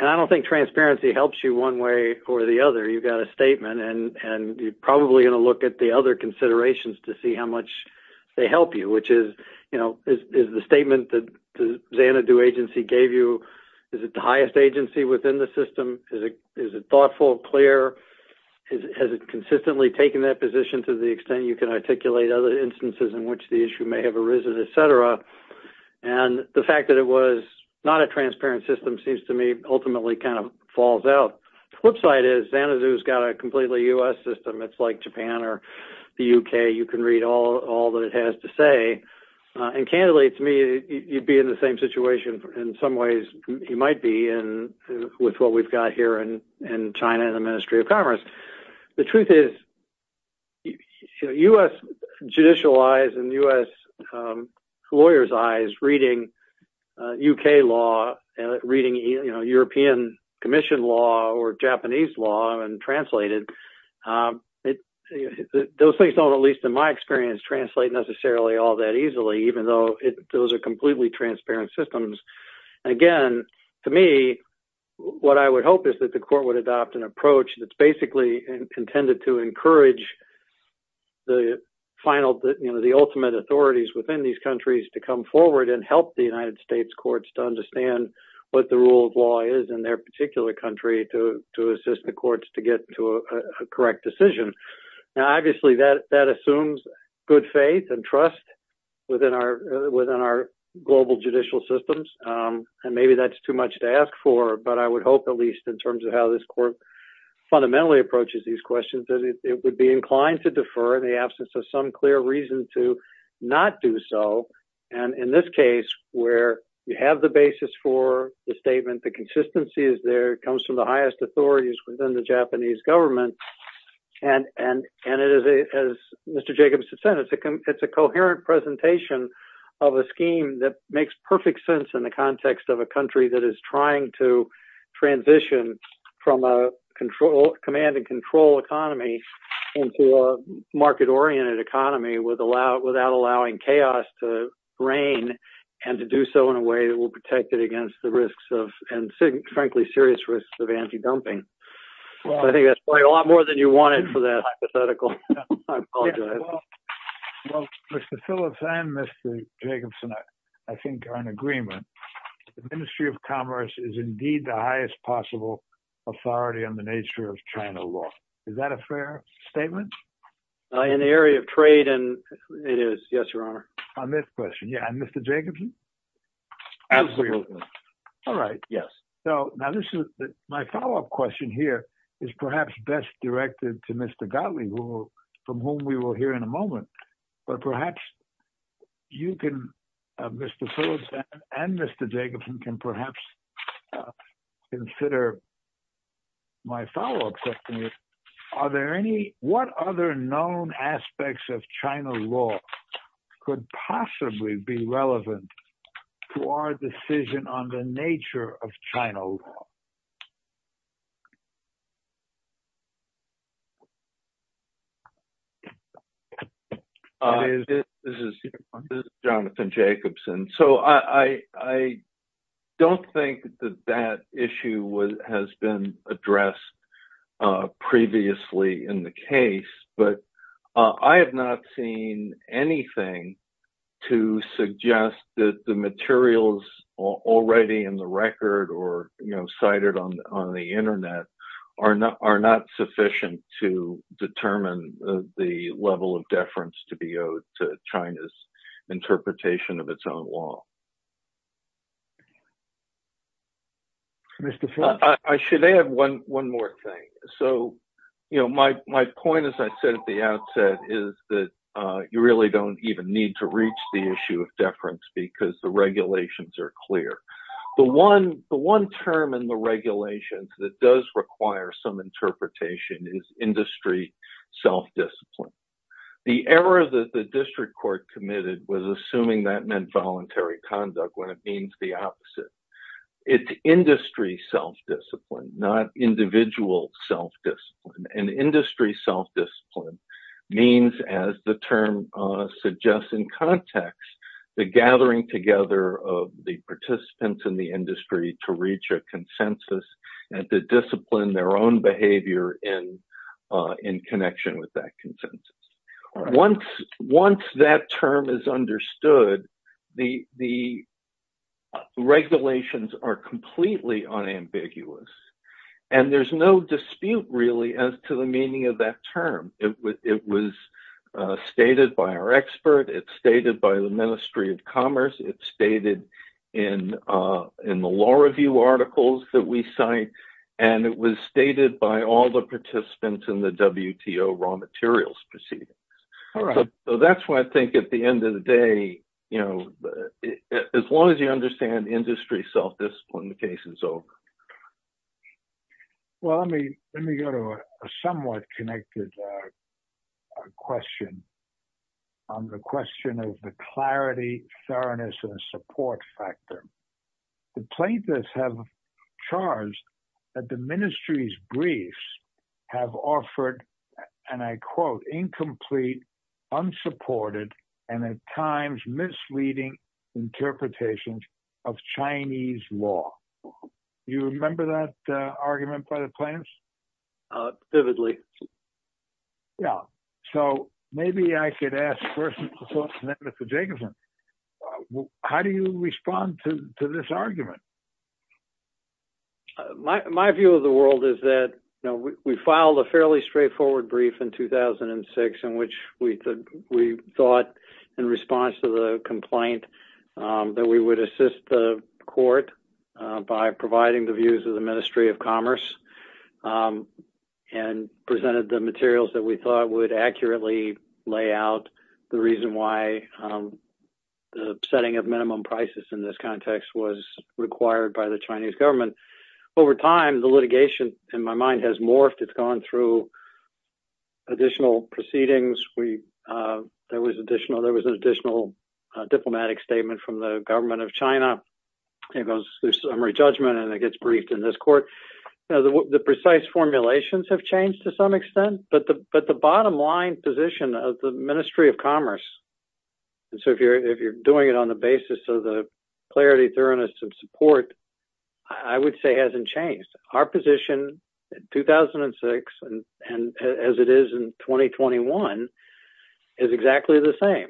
I don't think transparency helps you one way or the other. You've got a statement, and you're probably going to look at the other considerations to see how much they help you, which is, you know, is the statement that the Xanadu agency gave you, is it the highest agency within the system? Is it thoughtful, clear? Has it consistently taken that position to the extent you can articulate other instances in which the issue may have arisen, et cetera? And the fact that it was not a transparent system seems to me ultimately kind of falls out. The flip side is Xanadu's got a completely U.S. system. It's like Japan or the U.K. You can read all that it has to say. And candidly, to me, you'd be in the same in some ways you might be with what we've got here in China in the Ministry of Commerce. The truth is, you know, U.S. judicial eyes and U.S. lawyers' eyes reading U.K. law, reading, you know, European Commission law or Japanese law and translate it, those things don't, at least in my experience, translate necessarily all that easily, even though those are completely transparent systems. Again, to me, what I would hope is that the court would adopt an approach that's basically intended to encourage the ultimate authorities within these countries to come forward and help the United States courts to understand what the rule of law is in their particular country to assist the courts to get to a correct decision. Now, obviously, that assumes good faith and trust within our global judicial systems. And maybe that's too much to ask for. But I would hope at least in terms of how this court fundamentally approaches these questions, that it would be inclined to defer in the absence of some clear reason to not do so. And in this case, where you have the basis for the statement, the consistency is there. It comes from the highest authorities within the Japanese government. And as Mr. Jacobs has said, it's a coherent presentation of a scheme that makes perfect sense in the context of a country that is trying to transition from a command and control economy into a market-oriented economy without allowing chaos to reign and to do so in a way that will protect it against the risks of, and frankly, serious risks of anti-dumping. I think that's probably a lot more than you wanted for that hypothetical. I apologize. Well, Mr. Phillips, I and Mr. Jacobson, I think are in agreement. The Ministry of Commerce is indeed the highest possible authority on the nature of China law. Is that a fair statement? In the area of trade, it is. Yes, Your Honor. On this question, yeah. And Mr. Jacobson? Absolutely. All right. Yes. So now this is my follow-up question here is perhaps best directed to Mr. Gottlieb, from whom we will hear in a moment. But perhaps you can, Mr. Phillips and Mr. Jacobson can perhaps consider my follow-up question. Are there any, what other known aspects of China law could possibly be relevant to our decision on the nature of China law? Hi, this is Jonathan Jacobson. So I don't think that that issue has been addressed previously in the case, but I have not seen anything to suggest that the materials already in the record or cited on the internet are not sufficient to determine the level of deference to be owed to China's interpretation of its own law. I should add one more thing. So my point, as I said at the outset, is that you really don't even need to reach the issue of deference because the regulations are clear. The one term in the regulations that does require some interpretation is industry self-discipline. The error that the district court committed was assuming that meant voluntary conduct when it means the opposite. It's industry self-discipline, not individual self-discipline. And industry self-discipline means, as the term suggests in context, the gathering together of the participants in the industry to reach a consensus and to discipline their own behavior in connection with that consensus. Once that term is understood, the regulations are completely unambiguous and there's no dispute really as to the meaning of that term. It was stated by our expert, it's stated by the Ministry of Commerce, it's stated in the law review articles that we cite, and it was stated by all the participants in the WTO raw materials proceedings. So that's why I think at the end of the day, as long as you understand industry self-discipline, the case is over. Well, let me go to a somewhat connected question on the question of the clarity, fairness, and support factor. The plaintiffs have charged that the ministry's briefs have offered, and I quote, incomplete, unsupported, and at times misleading interpretations of Chinese law. You remember that argument by the plaintiffs? Vividly. Yeah. So maybe I could ask first of all to Mr. Jacobson, how do you respond to this argument? My view of the world is that, you know, we filed a fairly straightforward brief in 2006 in which we thought in response to the complaint that we would assist the court by providing the views of the Ministry of Commerce and presented the materials that we thought would accurately lay out the reason why the setting of minimum prices in this context was required by the Chinese government. Over time, the litigation, in my mind, has morphed. It's gone through additional proceedings. There was an additional diplomatic statement from the government of China. It goes through summary judgment, and it gets briefed in this court. The precise formulations have changed to some extent, but the bottom line position of the Ministry of Commerce, and so if you're doing it on the basis of the clarity, thoroughness, and support, I would say hasn't changed. Our position in 2006, and as it is in 2021, is exactly the same.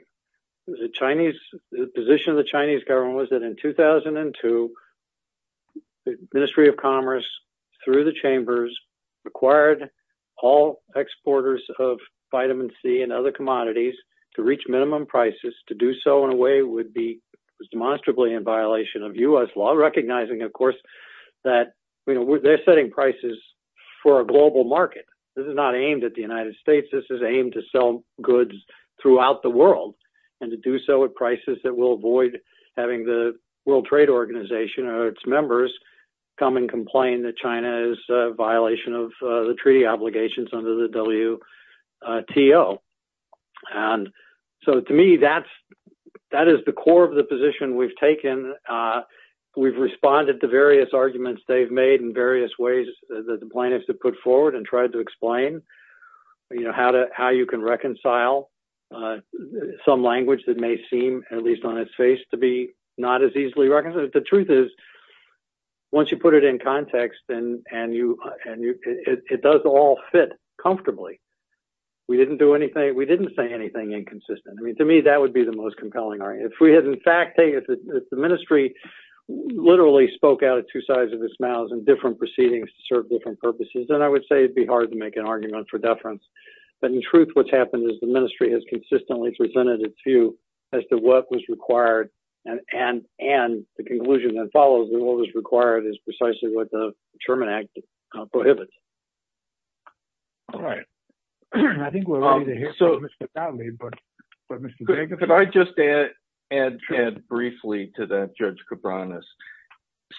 The position of the Chinese government was that in 2002, the Ministry of Commerce, through the chambers, required all exporters of vitamin C and other commodities to reach minimum prices. To do so in a way would be demonstrably in violation of recognizing, of course, that they're setting prices for a global market. This is not aimed at the United States. This is aimed to sell goods throughout the world, and to do so at prices that will avoid having the World Trade Organization or its members come and complain that China is a violation of the treaty obligations under the WTO. To me, that is the core of the position we've taken and we've responded to various arguments they've made in various ways that the plaintiffs have put forward and tried to explain, you know, how you can reconcile some language that may seem, at least on its face, to be not as easily recognized. The truth is, once you put it in context and it does all fit comfortably, we didn't do anything, we didn't say anything inconsistent. I mean, to me, that would be the most compelling argument. If we had, in fact, if the ministry literally spoke out two sides of its mouth in different proceedings to serve different purposes, then I would say it'd be hard to make an argument for deference. But in truth, what's happened is the ministry has consistently presented its view as to what was required and the conclusion that follows that what was required is precisely what the right. I think we're going to hear so much about me, but if I just add briefly to that, Judge Cabranes.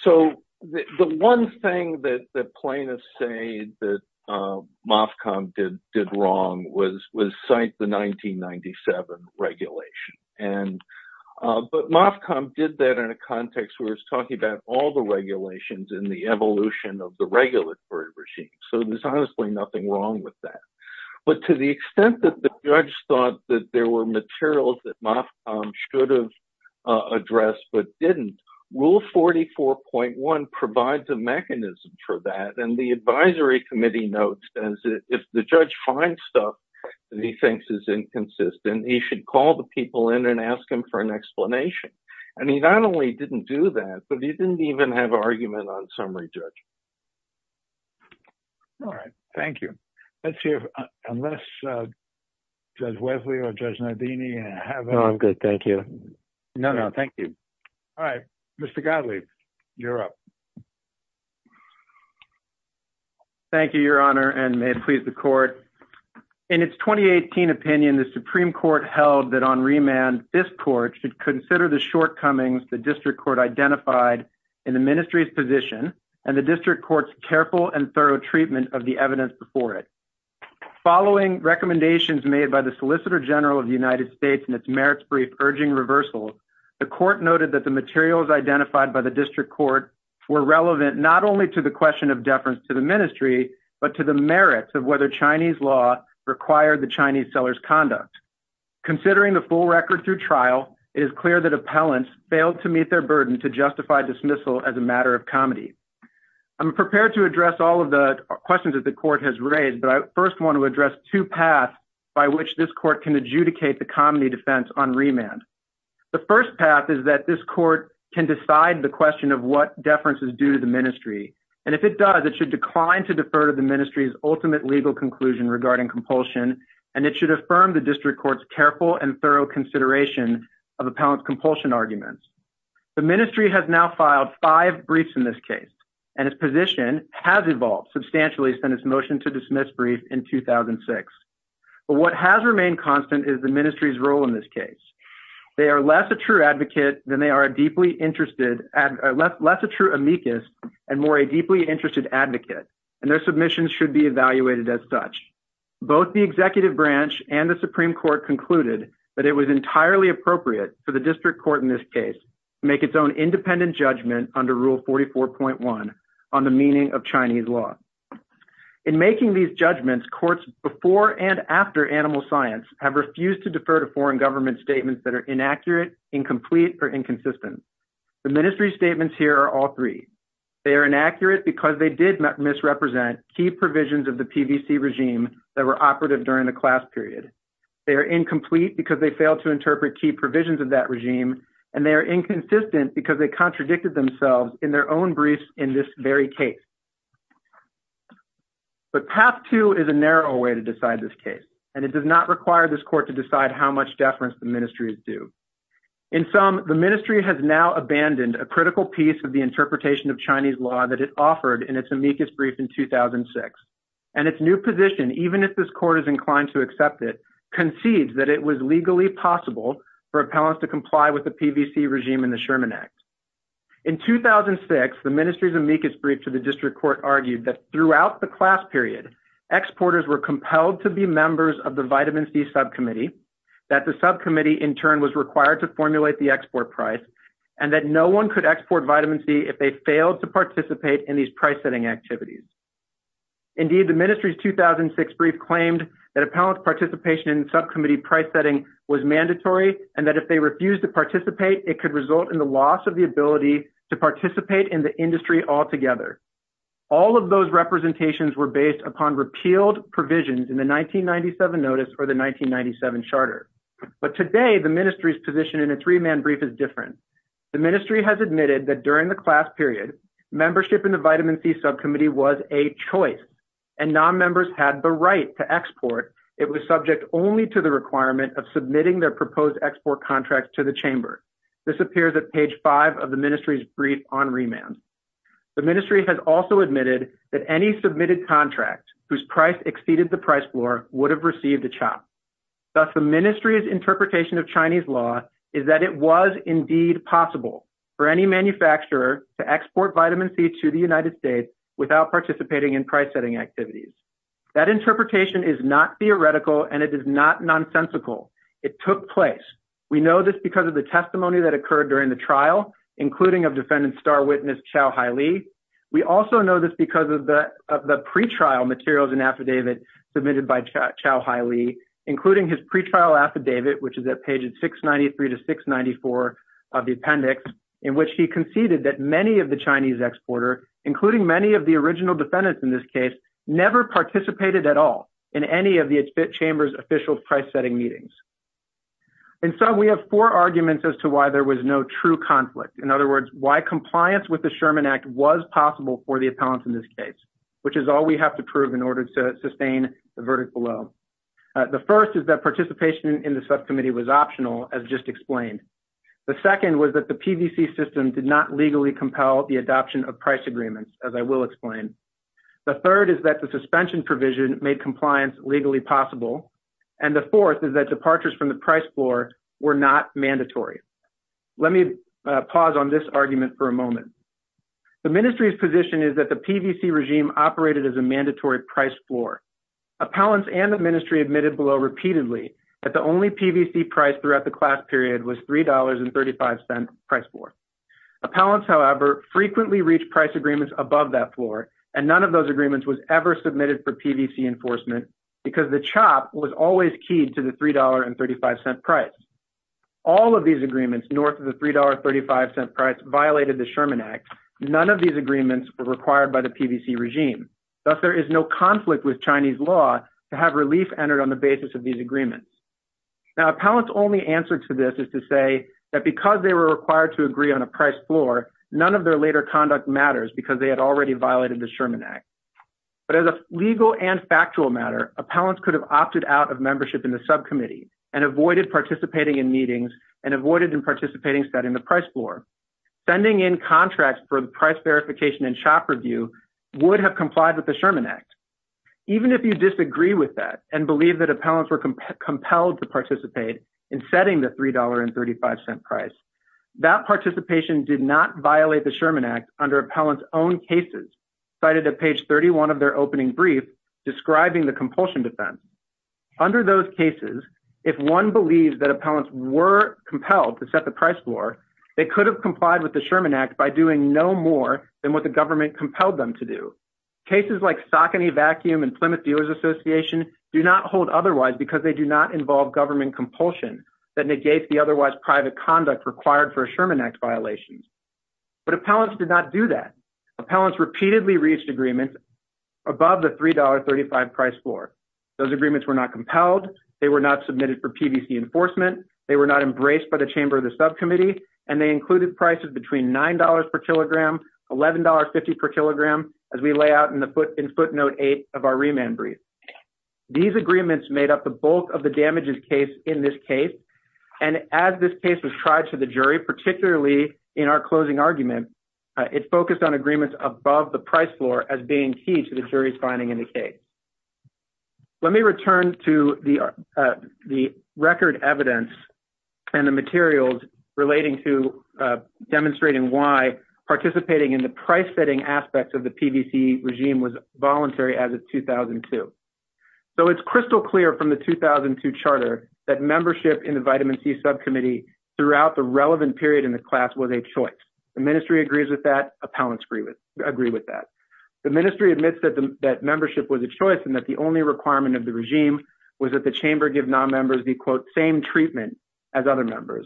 So the one thing that the plaintiffs say that Mofcom did wrong was cite the 1997 regulation. But Mofcom did that in a context where it's talking about all the regulations in the evolution of the regulatory regime. So there's honestly nothing wrong with that. But to the extent that the judge thought that there were materials that Mofcom should have addressed but didn't, Rule 44.1 provides a mechanism for that. And the advisory committee notes that if the judge finds stuff that he thinks is inconsistent, he should call the people in and ask him for an explanation. And he not only didn't do that, but he didn't even have an argument on summary judge. All right. Thank you. Let's see if unless Judge Wesley or Judge Nardini have- No, I'm good. Thank you. No, no. Thank you. All right. Mr. Godley, you're up. Thank you, Your Honor, and may it please the court. In its 2018 opinion, the Supreme Court held that this court should consider the shortcomings the district court identified in the ministry's position and the district court's careful and thorough treatment of the evidence before it. Following recommendations made by the Solicitor General of the United States in its merits brief urging reversals, the court noted that the materials identified by the district court were relevant not only to the question of deference to the ministry, but to the merits of whether Chinese law required the Chinese seller's conduct. Considering the full record through trial, it is clear that appellants failed to meet their burden to justify dismissal as a matter of comedy. I'm prepared to address all of the questions that the court has raised, but I first want to address two paths by which this court can adjudicate the comedy defense on remand. The first path is that this court can decide the question of what deference is due to the ministry, and if it does, it should decline to defer to the ministry's ultimate legal conclusion regarding compulsion, and it should affirm the district court's careful and thorough consideration of appellant's compulsion arguments. The ministry has now filed five briefs in this case, and its position has evolved substantially since its motion to dismiss brief in 2006. But what has remained constant is the ministry's role in this case. They are less a true advocate than they are a deeply interested... Less a true amicus and more a deeply interested advocate, and their submissions should be evaluated as such. Both the executive branch and the Supreme Court concluded that it was entirely appropriate for the district court in this case to make its own independent judgment under rule 44.1 on the meaning of Chinese law. In making these judgments, courts before and after animal science have refused to defer to foreign government statements that are inaccurate, incomplete, or inconsistent. The ministry's statements here are all three. They are inaccurate because they did misrepresent key provisions of the PVC regime that were operative during the class period. They are incomplete because they failed to interpret key provisions of that regime, and they are inconsistent because they contradicted themselves in their own briefs in this very case. But path two is a narrow way to decide this case, and it does not require this court to decide how much deference the ministries do. In sum, the ministry has now abandoned a critical piece of the interpretation of Chinese law that it offered in its amicus brief in 2006, and its new position, even if this court is inclined to accept it, concedes that it was legally possible for appellants to comply with the PVC regime in the Sherman Act. In 2006, the ministry's amicus brief to the district court argued that throughout the class period, exporters were compelled to be members of the vitamin C subcommittee, that the subcommittee in turn was required to formulate the export price, and that no one could export vitamin C if they failed to participate in these price-setting activities. Indeed, the ministry's 2006 brief claimed that appellant participation in subcommittee price setting was mandatory, and that if they refused to participate, it could result in the loss of ability to participate in the industry altogether. All of those representations were based upon repealed provisions in the 1997 notice for the 1997 charter. But today, the ministry's position in a three-man brief is different. The ministry has admitted that during the class period, membership in the vitamin C subcommittee was a choice, and non-members had the right to export. It was subject only to the requirement of submitting their proposed export contract to the chamber. This appears at page five of the ministry's brief on remand. The ministry has also admitted that any submitted contract whose price exceeded the price floor would have received a chop. Thus, the ministry's interpretation of Chinese law is that it was indeed possible for any manufacturer to export vitamin C to the United States without participating in price-setting activities. That interpretation is not theoretical, and it is not nonsensical. It took place. We know this because of the testimony that occurred during the trial, including of defendant star witness Chow Hai-Li. We also know this because of the of the pre-trial materials and affidavit submitted by Chow Hai-Li, including his pre-trial affidavit, which is at pages 693 to 694 of the appendix, in which he conceded that many of the Chinese exporter, including many of the original defendants in this case, never participated at all in any of the chamber's official price-setting meetings. And so we have four arguments as to why there was no true conflict. In other words, why compliance with the Sherman Act was possible for the appellants in this case, which is all we have to prove in order to sustain the verdict below. The first is that participation in the subcommittee was optional, as just explained. The second was that the PVC system did not legally compel the adoption of price agreements, as I will explain. The third is that the suspension provision made compliance legally possible. And the fourth is that departures from the price floor were not mandatory. Let me pause on this argument for a moment. The ministry's position is that the PVC regime operated as a mandatory price floor. Appellants and the ministry admitted below repeatedly that the only PVC price throughout the class period was $3.35 price floor. Appellants, however, frequently reached price agreements above that floor, and none of those agreements was ever submitted for PVC enforcement because the chop was always keyed to the $3.35 price. All of these agreements north of the $3.35 price violated the Sherman Act. None of these agreements were required by the PVC regime. Thus, there is no conflict with Chinese law to have relief entered on the basis of these agreements. Now, appellants' only answer to this is to say that because they were required to agree on a price floor, none of their later conduct matters because they had already violated the Sherman Act. But as a legal and factual matter, appellants could have opted out of membership in the subcommittee and avoided participating in meetings and avoided participating in setting the price floor. Sending in contracts for the price verification and chop review would have complied with the Sherman Act. Even if you disagree with that and believe that appellants were compelled to participate in setting the $3.35 price, that participation did not violate the Sherman Act under appellants' own cases cited at page 31 of their opening brief describing the compulsion defense. Under those cases, if one believes that appellants were compelled to set the price floor, they could have complied with the Sherman Act by doing no more than what the government compelled them to do. Cases like Saucony Vacuum and Plymouth Dealers Association do not hold otherwise because they do not involve government compulsion that required for Sherman Act violations. But appellants did not do that. Appellants repeatedly reached agreements above the $3.35 price floor. Those agreements were not compelled, they were not submitted for PVC enforcement, they were not embraced by the chamber of the subcommittee, and they included prices between $9 per kilogram, $11.50 per kilogram, as we lay out in footnote eight of our remand brief. These agreements made up the bulk of the damages case in this case, and as this case was tried to the jury, particularly in our closing argument, it focused on agreements above the price floor as being key to the jury's finding in the case. Let me return to the record evidence and the materials relating to demonstrating why participating in the price-setting aspects of the PVC regime was voluntary as of 2002. It's crystal clear from the 2002 charter that membership in the vitamin C subcommittee throughout the relevant period in the class was a choice. The ministry agrees with that, appellants agree with that. The ministry admits that membership was a choice and that the only requirement of the regime was that the chamber give non-members the, quote, same treatment as other members.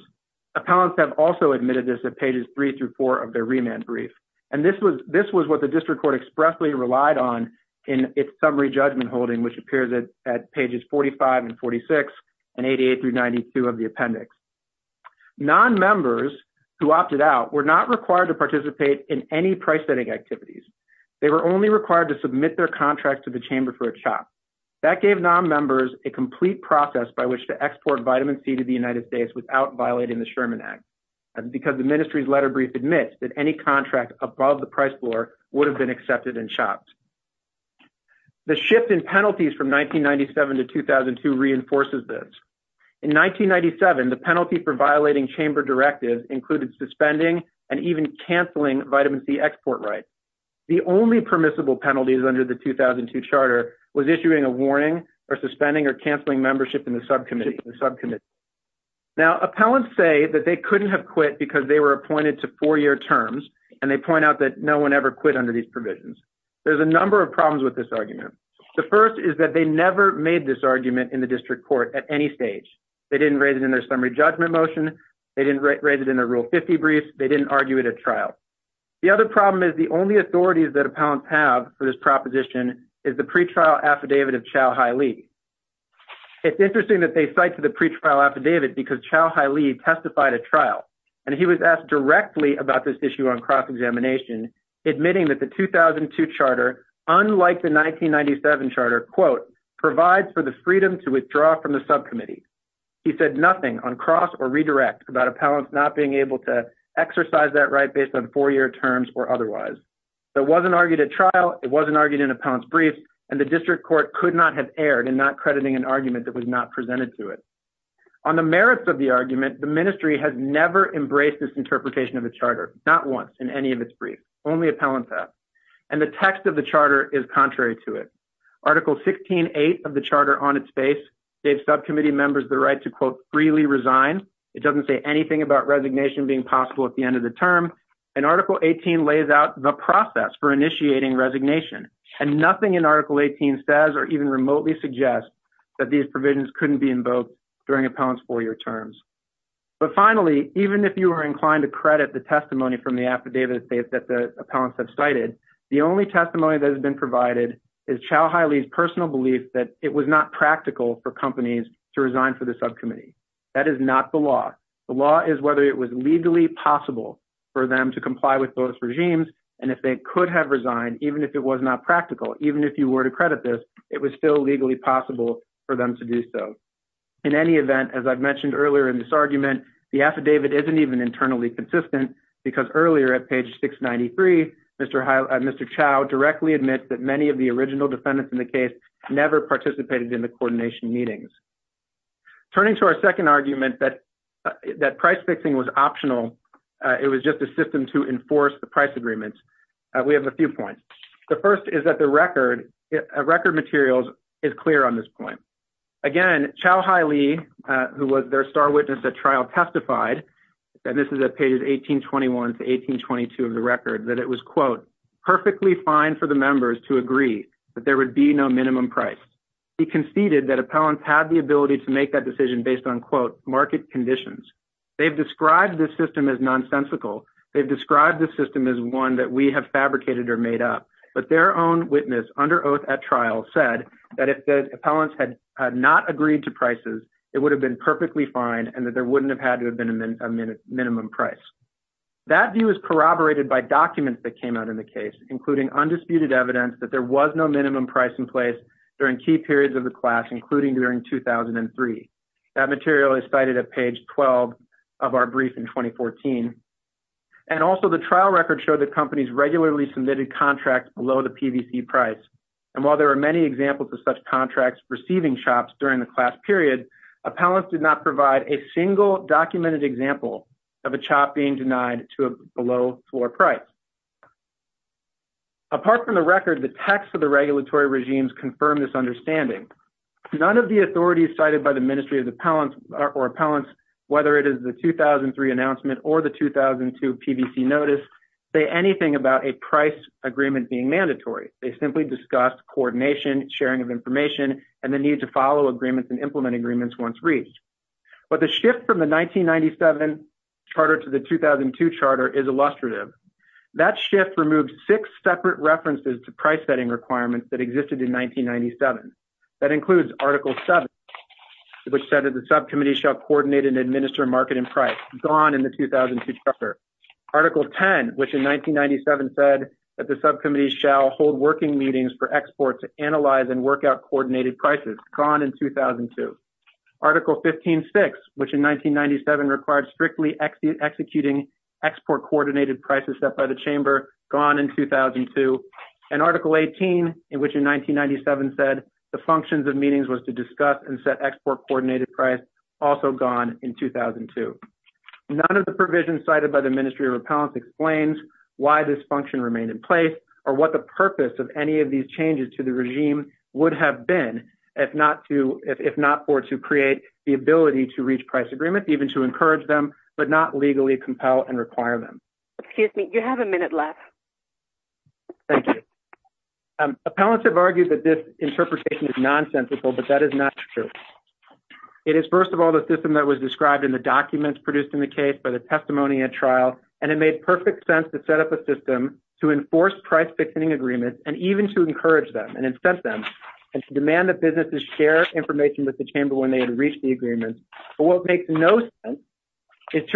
Appellants have also admitted this at pages three through four of their remand brief, and this was what the district court expressly relied on in its summary judgment holding, which appears at pages 45 and 46 and 88 through 92 of the appendix. Non-members who opted out were not required to participate in any price-setting activities. They were only required to submit their contract to the chamber for a chop. That gave non-members a complete process by which to export vitamin C to the United States without violating the Sherman Act, because the ministry's letter brief admits that any contract above the price floor would have been accepted and chopped. The shift in penalties from 1997 to 2002 reinforces this. In 1997, the penalty for violating chamber directives included suspending and even canceling vitamin C export rights. The only permissible penalties under the 2002 charter was issuing a warning or suspending or canceling membership in the subcommittee. Now, appellants say that they couldn't have quit because they were appointed to four-year terms, and they point out that no one ever quit under these provisions. There's a number of problems with this argument. The first is that they never made this argument in the district court at any stage. They didn't rate it in their summary judgment motion. They didn't rate it in their Rule 50 brief. They didn't argue it at trial. The other problem is the only authorities that appellants have for this proposition is the pretrial affidavit of Chau Haile. It's interesting that they cite to the pretrial affidavit because Chau Haile testified at trial, and he was asked directly about this issue on cross-examination, admitting that the 2002 charter, unlike the 1997 charter, quote, provides for the freedom to withdraw from the subcommittee. He said nothing on cross or redirect about appellants not being able to exercise that right based on four-year terms or otherwise. That wasn't argued at trial. It wasn't argued in an appellant's brief, and the district court could not have erred in not crediting an argument that was not presented to it. On the merits of the argument, the ministry has never embraced this interpretation of the charter, not once in any of its briefs. Only appellants have. And the text of the charter is contrary to it. Article 16.8 of the charter on its base gave subcommittee members the right to, quote, freely resign. It doesn't say anything about resignation being possible at the end of the term. And Article 18 lays out the process for resignation. And nothing in Article 18 says or even remotely suggests that these provisions couldn't be invoked during an appellant's four-year terms. But finally, even if you are inclined to credit the testimony from the affidavit that the appellants have cited, the only testimony that has been provided is Chau Haile's personal belief that it was not practical for companies to resign for the subcommittee. That is not the law. The law is whether it was legally possible for them to comply with both regimes, and if they could have resigned, even if it was not practical, even if you were to credit this, it was still legally possible for them to do so. In any event, as I've mentioned earlier in this argument, the affidavit isn't even internally consistent because earlier at page 693, Mr. Chau directly admits that many of the original defendants in the case never participated in the coordination meetings. Turning to our second argument that price fixing was optional, it was just a system to enforce the price agreements, we have a few points. The first is that the record materials is clear on this point. Again, Chau Haile, who was their star witness at trial, testified, and this is at pages 1821 to 1822 of the record, that it was, quote, perfectly fine for the members to agree that there would be no minimum price. He conceded that appellants had the ability to make that decision based on, quote, market conditions. They've described this system as nonsensical. They've described the system as one that we have fabricated or made up, but their own witness under oath at trial said that if the appellants had not agreed to prices, it would have been perfectly fine and that there wouldn't have had to have been a minimum price. That view is corroborated by documents that came out in the case, including undisputed evidence that there was no minimum price in place during key periods of the class, including during 2003. That material is cited at page 12 of our brief in 2014, and also the trial record showed that companies regularly submitted contracts below the PVC price, and while there are many examples of such contracts receiving chops during the class period, appellants did not provide a single documented example of a chop being denied to a below floor price. Apart from the record, the text of the regulatory regimes confirmed this understanding. None of the authorities cited by the Ministry of Appellants, whether it is the 2003 announcement or the 2002 PVC notice, say anything about a price agreement being mandatory. They simply discussed coordination, sharing of information, and the need to follow agreements and implement agreements once reached. But the shift from the 1997 charter to the 2002 charter is illustrative. That shift removed six separate references to price setting requirements that existed in 1997. That said that the subcommittee shall coordinate and administer market and price, gone in the 2002 charter. Article 10, which in 1997 said that the subcommittee shall hold working meetings for exports to analyze and work out coordinated prices, gone in 2002. Article 15.6, which in 1997 required strictly executing export coordinated prices set by the chamber, gone in 2002. And was to discuss and set export coordinated price, also gone in 2002. None of the provisions cited by the Ministry of Appellants explains why this function remained in place or what the purpose of any of these changes to the regime would have been if not for to create the ability to reach price agreement, even to encourage them, but not legally compel and require them. Excuse me, you have a minute left. Thank you. Appellants have argued that this interpretation is nonsensical, but that is not true. It is, first of all, the system that was described in the documents produced in the case by the testimony at trial, and it made perfect sense to set up a system to enforce price fixing agreements and even to encourage them and incent them and to demand that businesses share information with the chamber when they had reached the agreements. But what makes no sense is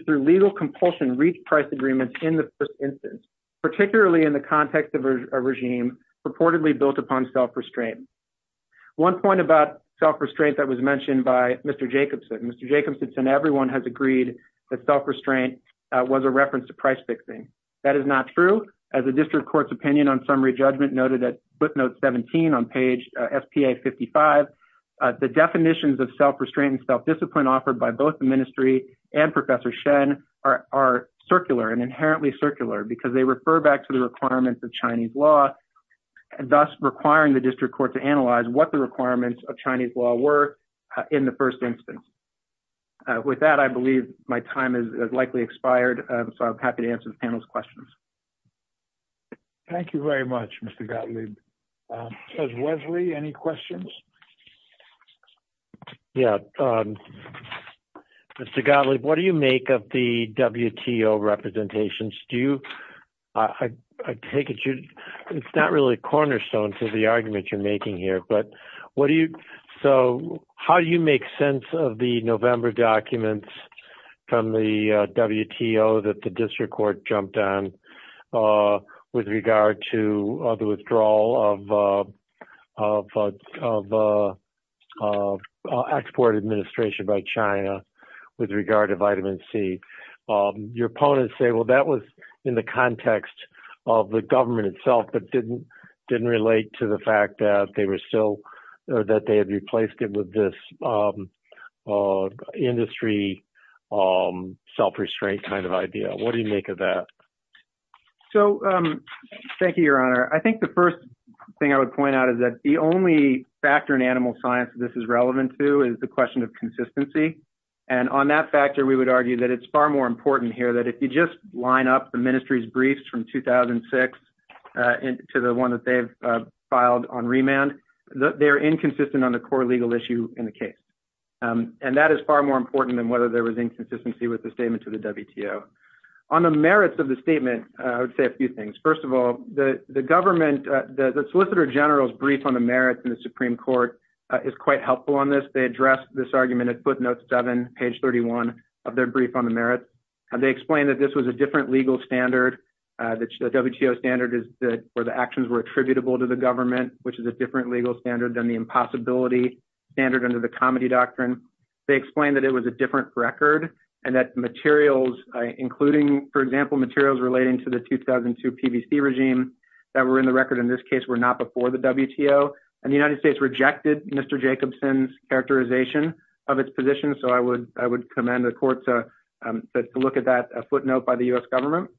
to compulsion reach price agreements in the first instance, particularly in the context of a regime purportedly built upon self-restraint. One point about self-restraint that was mentioned by Mr. Jacobson, Mr. Jacobson said everyone has agreed that self-restraint was a reference to price fixing. That is not true. As a district court's opinion on summary judgment noted at footnote 17 on page SPA 55, the definitions of self-restraint and self-discipline offered by both the ministry and Professor Shen are circular and inherently circular because they refer back to the requirements of Chinese law, thus requiring the district court to analyze what the requirements of Chinese law were in the first instance. With that, I believe my time has likely expired, so I'm happy to answer the panel's questions. Thank you very much, Mr. Gottlieb. Wesley, any questions? Yeah. Mr. Gottlieb, what do you make of the WTO representations? I take it it's not really cornerstone to the argument you're making here. How do you make sense of the November documents from the WTO that the district court jumped on with regard to the withdrawal of export administration by China with regard to vitamin C? Your opponents say, well, that was in the context of the government itself, but didn't relate to the fact that they had replaced it with this industry self-restraint kind of idea. What do you make of that? Thank you, Your Honor. I think the first thing I would point out is that the only factor in animal science this is relevant to is the question of consistency. On that factor, we would argue that it's far more important here that if you just line up the ministry's briefs 2006 to the one that they've filed on remand, they're inconsistent on the core legal issue in the case. That is far more important than whether there was inconsistency with the statement to the WTO. On the merits of the statement, I would say a few things. First of all, the solicitor general's brief on the merits in the Supreme Court is quite helpful on this. They addressed this argument at footnote 7, page 31 of their brief on the merits. They explained that this was a legal standard. The WTO standard is where the actions were attributable to the government, which is a different legal standard than the impossibility standard under the comedy doctrine. They explained that it was a different record and that materials, including, for example, materials relating to the 2002 PVC regime that were in the record in this case were not before the WTO. The United States rejected Mr. Jacobson's characterization of its position. I would commend the court to look at that footnote by the U.S. government.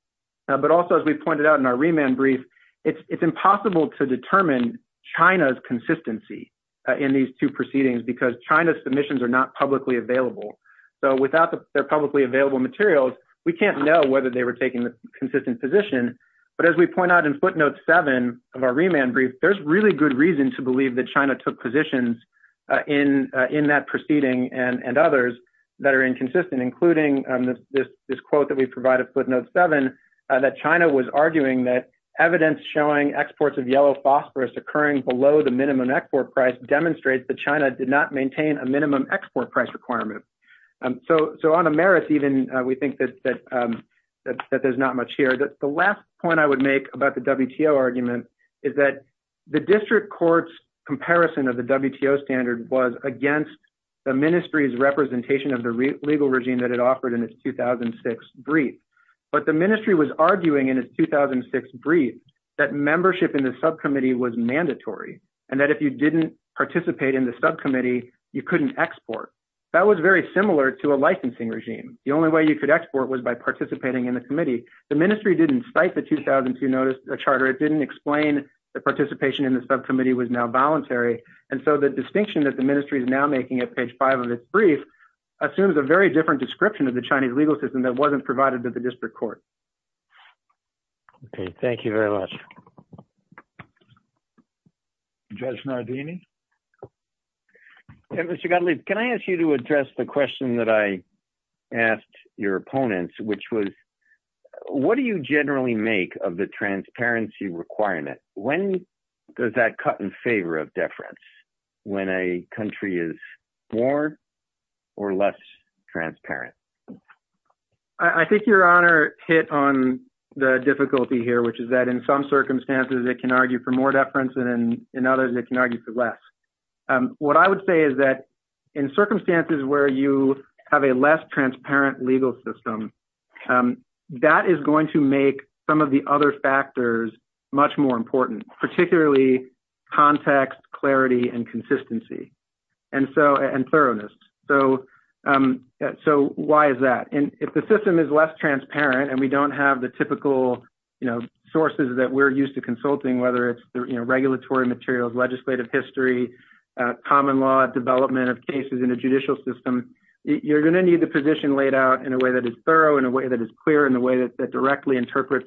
But also, as we pointed out in our remand brief, it's impossible to determine China's consistency in these two proceedings because China's submissions are not publicly available. So without their publicly available materials, we can't know whether they were taking the consistent position. But as we point out in footnote 7 of our remand brief, there's really good reason to believe that China took positions in that proceeding and consistent, including this quote that we provided footnote 7, that China was arguing that evidence showing exports of yellow phosphorus occurring below the minimum export price demonstrates that China did not maintain a minimum export price requirement. So on the merits, even, we think that there's not much here. The last point I would make about the WTO argument is that the district court's comparison of the WTO standard was against the ministry's legal regime that it offered in its 2006 brief. But the ministry was arguing in its 2006 brief that membership in the subcommittee was mandatory and that if you didn't participate in the subcommittee, you couldn't export. That was very similar to a licensing regime. The only way you could export was by participating in the committee. The ministry didn't cite the 2002 charter. It didn't explain that participation in the subcommittee was now voluntary. And so the distinction that the very different description of the Chinese legal system that wasn't provided to the district court. Okay, thank you very much. Judge Nardini. Mr. Gottlieb, can I ask you to address the question that I asked your opponents, which was, what do you generally make of the transparency requirement? When does that cut in favor of transparent? I think your honor hit on the difficulty here, which is that in some circumstances, it can argue for more deference and in others, it can argue for less. What I would say is that in circumstances where you have a less transparent legal system, that is going to make some of the other factors much more important, particularly context, clarity, and consistency and thoroughness. So why is that? If the system is less transparent and we don't have the typical sources that we're used to consulting, whether it's regulatory materials, legislative history, common law, development of cases in a judicial system, you're going to need the position laid out in a way that is thorough, in a way that is clear, in a way that directly interprets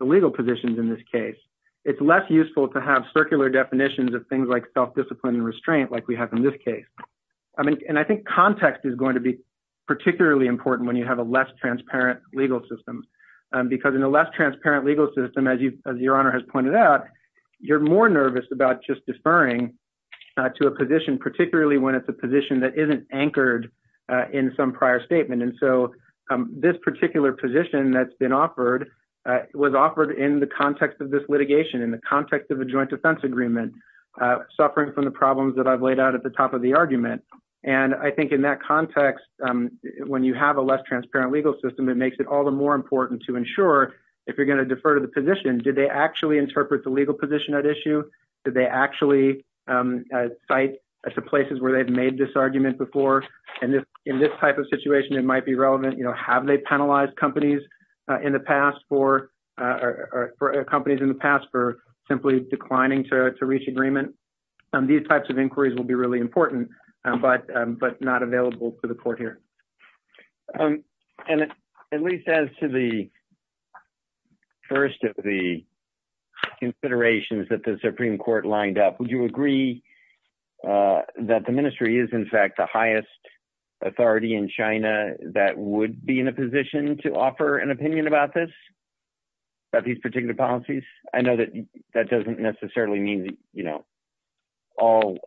the legal positions in this case. It's less useful to have circular definitions of things like self-discipline and restraint, like we have in this case. And I think context is going to be particularly important when you have a less transparent legal system, because in a less transparent legal system, as your honor has pointed out, you're more nervous about just deferring to a position, particularly when it's a position that isn't anchored in some prior statement. And so this particular position that's been offered was offered in the context of this litigation, in the context of a joint defense agreement, suffering from the problems that I've laid out at the top of the argument. And I think in that context, when you have a less transparent legal system, it makes it all the more important to ensure, if you're going to defer to the position, did they actually interpret the legal position at issue? Did they actually cite the places where they've made this argument before? And in this type of situation, it might be relevant, have they penalized companies in the past for, or companies in the past for simply declining to reach agreement? These types of inquiries will be really important, but not available for the court here. And at least as to the first of the considerations that the Supreme Court lined up, would you agree that the ministry is in fact the highest authority in China that would be in a position to offer an opinion about this, about these particular policies? I know that that doesn't necessarily mean all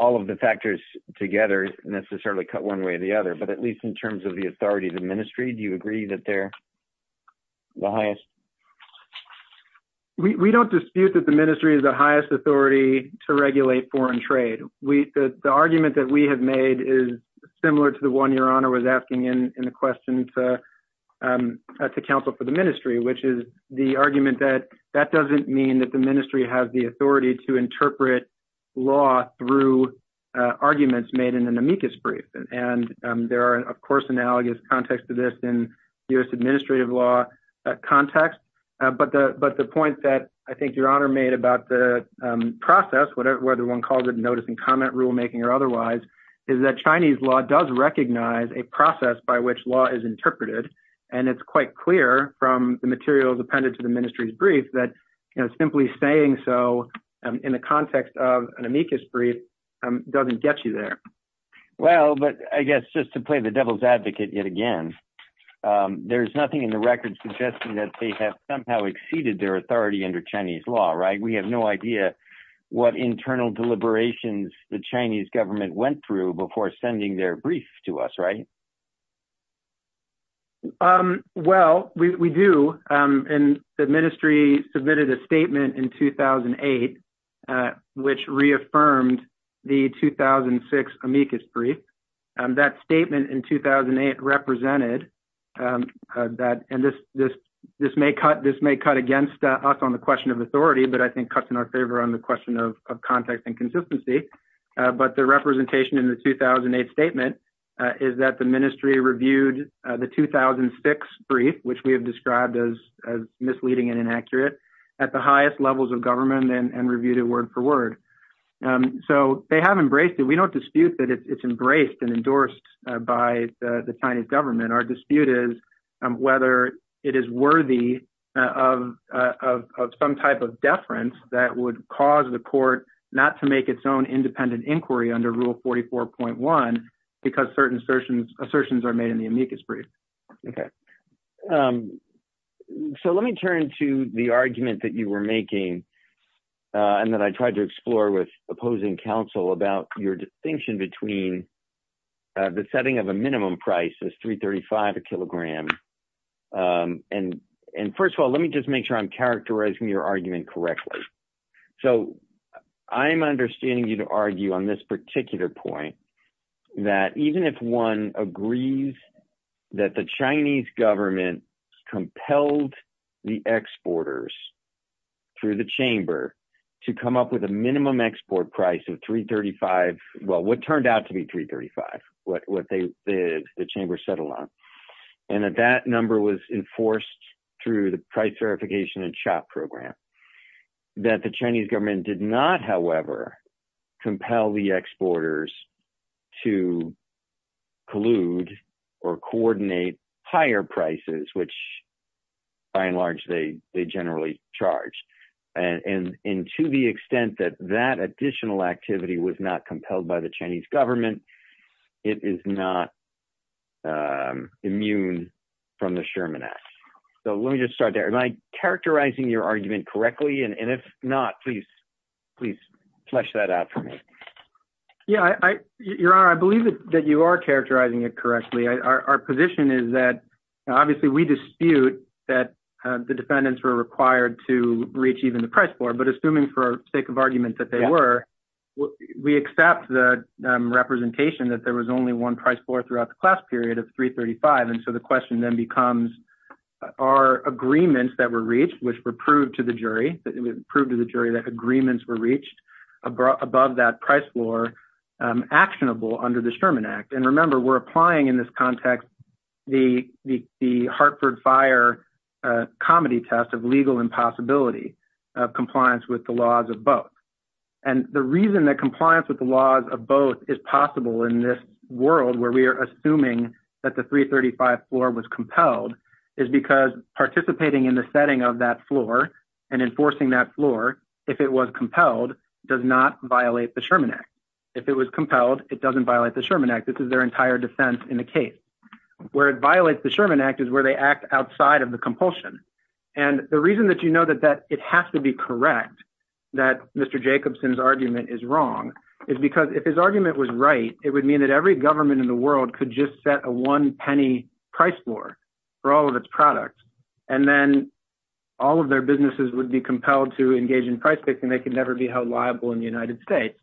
of the factors together necessarily cut one way or the other, but at least in terms of the authority of the ministry, do you agree that they're the highest? We don't dispute that the ministry is the highest authority to regulate foreign trade. The argument that we have made is similar to the one your honor was asking in the question to counsel for the ministry, which is the argument that that doesn't mean that the ministry has the authority to interpret law through arguments made in an amicus brief. And there are of course analogous contexts to this in U.S. administrative law context. But the point that I think your honor made about the process, whether one calls it notice and comment rulemaking or otherwise, is that Chinese law does recognize a process by which law is interpreted. And it's quite clear from the materials appended to the ministry's brief that simply saying so in the context of an amicus brief doesn't get you there. Well, but I guess just to play the devil's there's nothing in the record suggesting that they have somehow exceeded their authority under Chinese law, right? We have no idea what internal deliberations the Chinese government went through before sending their brief to us, right? Well, we do. And the ministry submitted a statement in 2008 which reaffirmed the 2006 amicus brief. That statement in 2008 represented that, and this may cut against us on the question of authority, but I think cuts in our favor on the question of context and consistency. But the representation in the 2008 statement is that the ministry reviewed the 2006 brief, which we have described as misleading and inaccurate, at the highest levels of government and reviewed it word for word. So they have embraced it. We don't dispute that it's embraced and endorsed by the Chinese government. Our dispute is whether it is worthy of some type of deference that would cause the court not to make its own independent inquiry under rule 44.1 because certain assertions are made in the amicus brief. Okay. So let me turn to the argument that you were making and that I tried to explore with opposing counsel about your distinction between the setting of a minimum price is $3.35 a kilogram. And first of all, let me just make sure I'm characterizing your argument correctly. So I'm understanding you to argue on this particular point that even if one agrees that the Chinese government compelled the exporters through the chamber to come up with a minimum export price of $3.35, well, what turned out to be $3.35, what the chamber settled on, and that that number was enforced through the price verification and CHOP program, that the Chinese government did not, however, compel the exporters to collude or coordinate higher prices, which by and large, they generally charge. And to the extent that that additional activity was not compelled by the Chinese government, it is not immune from the Sherman Act. So let me just start there. Am I characterizing your argument correctly? And if not, please, please flesh that out for me. Yeah, you're right. I believe that you are characterizing it correctly. Our position is that obviously we dispute that the defendants were required to reach even the price floor, but assuming for sake of argument that they were, we accept the representation that there was only one price floor throughout the class period of $3.35. And so the question then becomes, are agreements that were reached, which were proved to the jury, proved to the jury that agreements were reached above that price floor actionable under the Sherman Act. And remember, we're applying in this context, the Hartford Fire comedy test of legal impossibility of compliance with the laws of both. And the reason that $3.35 floor was compelled is because participating in the setting of that floor and enforcing that floor, if it was compelled, does not violate the Sherman Act. If it was compelled, it doesn't violate the Sherman Act. This is their entire defense in the case. Where it violates the Sherman Act is where they act outside of the compulsion. And the reason that you know that it has to be correct, that Mr. Jacobson's argument is wrong, is because if his argument was right, it would mean that every government in the world could just set a one penny price floor for all of its products. And then all of their businesses would be compelled to engage in price fixing. They could never be held liable in the United States.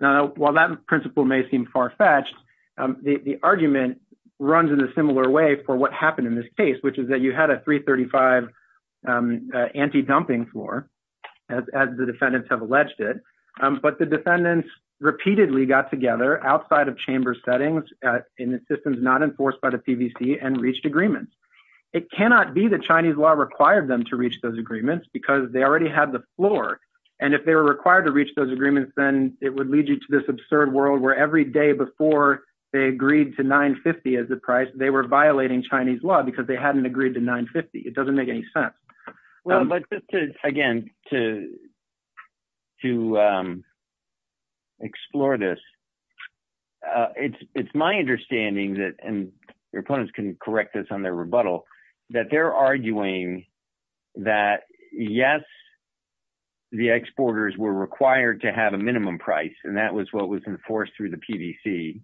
Now, while that principle may seem far fetched, the argument runs in a similar way for what happened in this case, which is that you had a $3.35 anti-dumping floor, as the defendants have alleged it. But the defendants repeatedly got together outside of chamber settings in the systems not enforced by the PVC and reached agreements. It cannot be the Chinese law required them to reach those agreements because they already had the floor. And if they were required to reach those agreements, then it would lead you to this absurd world where every day before they agreed to $9.50 as the price, they were violating Chinese law because they hadn't agreed to $9.50. It doesn't make any sense. But again, to explore this, it's my understanding that, and your opponents can correct this on their rebuttal, that they're arguing that, yes, the exporters were required to have a minimum price. And that was what was enforced through the PVC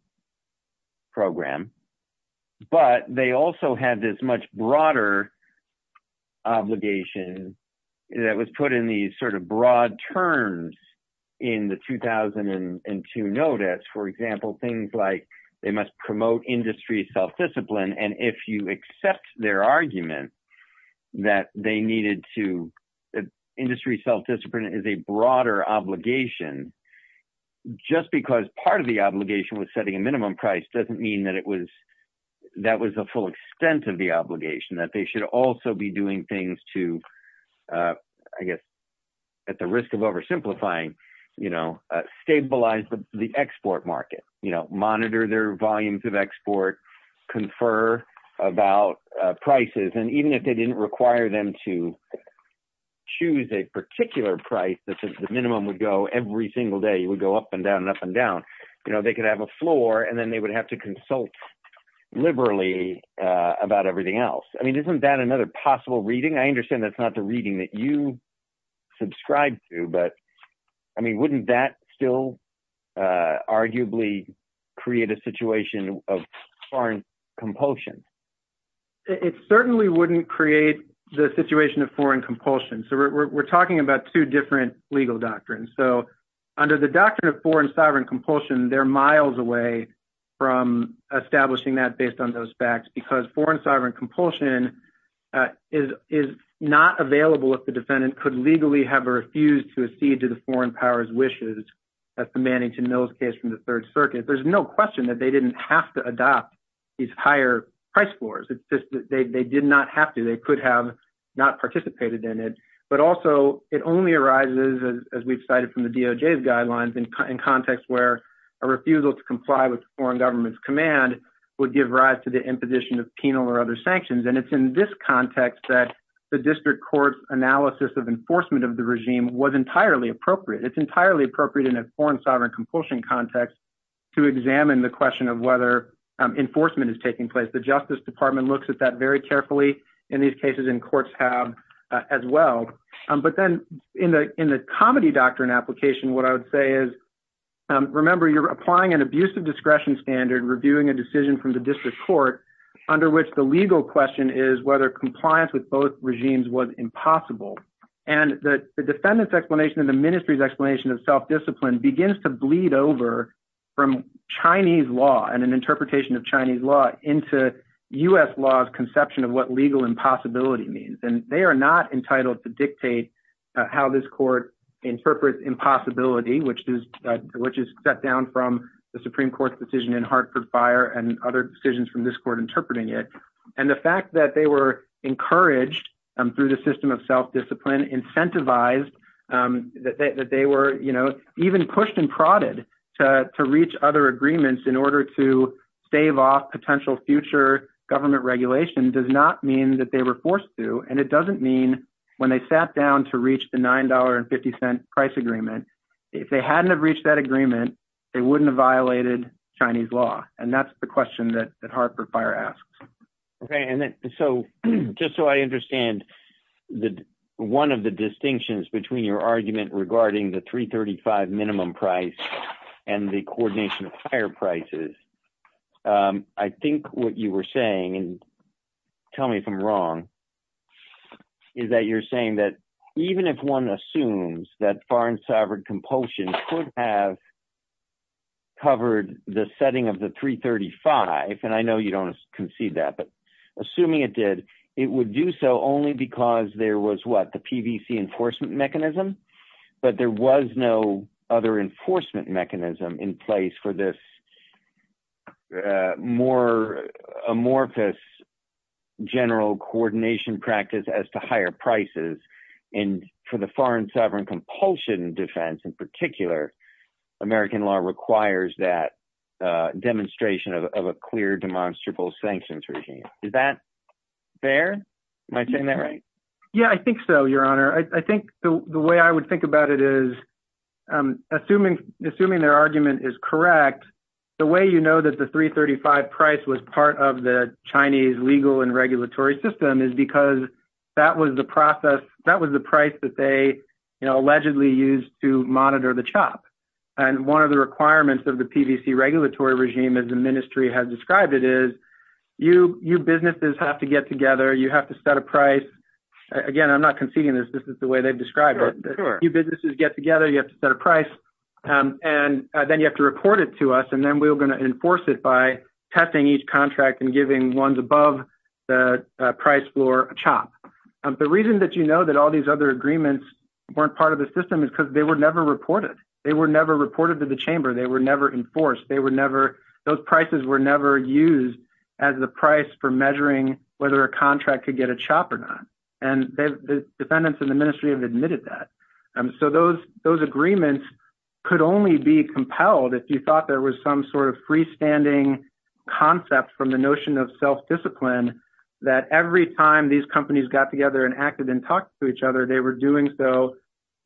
program. But they also had this much broader obligation that was put in these broad terms in the 2002 notice. For example, things like they must promote industry self-discipline. And if you accept their argument that industry self-discipline is a broader obligation, just because part of the obligation was setting a minimum price, they should also be doing things to, I guess, at the risk of oversimplifying, stabilize the export market, monitor their volumes of export, confer about prices. And even if they didn't require them to choose a particular price, the minimum would go every single day, it would go up and down, up and down. They could have a floor and then they would have to consult liberally about everything else. I mean, isn't that another possible reading? I understand that's not the reading that you subscribe to, but I mean, wouldn't that still arguably create a situation of foreign compulsion? It certainly wouldn't create the situation of foreign compulsion. So we're talking about two different legal doctrines. So under the doctrine of foreign sovereign compulsion, they're miles away from establishing that based on those facts, because foreign sovereign compulsion is not available if the defendant could legally have or refused to accede to the foreign power's wishes. That's the Mannington Mills case from the third circuit. There's no question that they didn't have to adopt these higher price floors. It's just that they did not have to, they could have not participated in it. But also it only arises, as we've cited from the DOJ's guidelines, in context where a refusal to comply with foreign government's command would give rise to the imposition of penal or other sanctions. And it's in this context that the district court's analysis of enforcement of the regime was entirely appropriate. It's entirely appropriate in a foreign sovereign compulsion context to examine the question of whether enforcement is taking place. The Justice Department looks at that very carefully in these cases, and courts have as well. But then in the comedy doctrine application, what I would say is, remember, you're applying an abuse of discretion standard, reviewing a decision from the district court, under which the legal question is whether compliance with both regimes was impossible. And the defendant's explanation and the ministry's explanation of self-discipline begins to bleed over from Chinese law and an interpretation of Chinese law into US law's impossibility means. And they are not entitled to dictate how this court interprets impossibility, which is set down from the Supreme Court's decision in Hartford Fire and other decisions from this court interpreting it. And the fact that they were encouraged through the system of self-discipline, incentivized, that they were even pushed and prodded to reach other agreements in potential future government regulation does not mean that they were forced to, and it doesn't mean when they sat down to reach the $9.50 price agreement, if they hadn't have reached that agreement, they wouldn't have violated Chinese law. And that's the question that Hartford Fire asks. Okay. And so just so I understand, one of the distinctions between your argument regarding the $3.35 minimum price and the coordination of fire prices, I think what you were saying, and tell me if I'm wrong, is that you're saying that even if one assumes that foreign sovereign compulsion could have covered the setting of the $3.35, and I know you don't concede that, but assuming it did, it would do so only because there was what, the PVC enforcement mechanism, but there was no other enforcement mechanism in place for this more amorphous general coordination practice as to higher prices. And for the foreign sovereign compulsion defense in particular, American law requires that demonstration of a clear demonstrable sanctions regime. Is that fair? Am I saying that right? Yeah, I think so, Your Honor. I think the way I would think about it is, assuming their argument is correct, the way you know that the $3.35 price was part of the Chinese legal and regulatory system is because that was the price that they allegedly used to monitor the chop. And one of the requirements of the PVC regulatory regime, as the ministry has described it, is you businesses have to get together, you have to set a price. Again, I'm not conceding this, this is the way they've described it. You businesses get together, you have to set a price, and then you have to report it to us, and then we're going to enforce it by testing each contract and giving ones above the price for a chop. The reason that you know that all these other agreements weren't part of the system is because they were never reported. They were never reported to the chamber, they were never enforced, they were never, those prices were never used as the price for measuring whether a contract could get a chop or not. And the defendants in the ministry have admitted that. So those agreements could only be compelled if you thought there was some sort of freestanding concept from the notion of self discipline, that every time these companies got together and acted and talked to each other, they were doing so,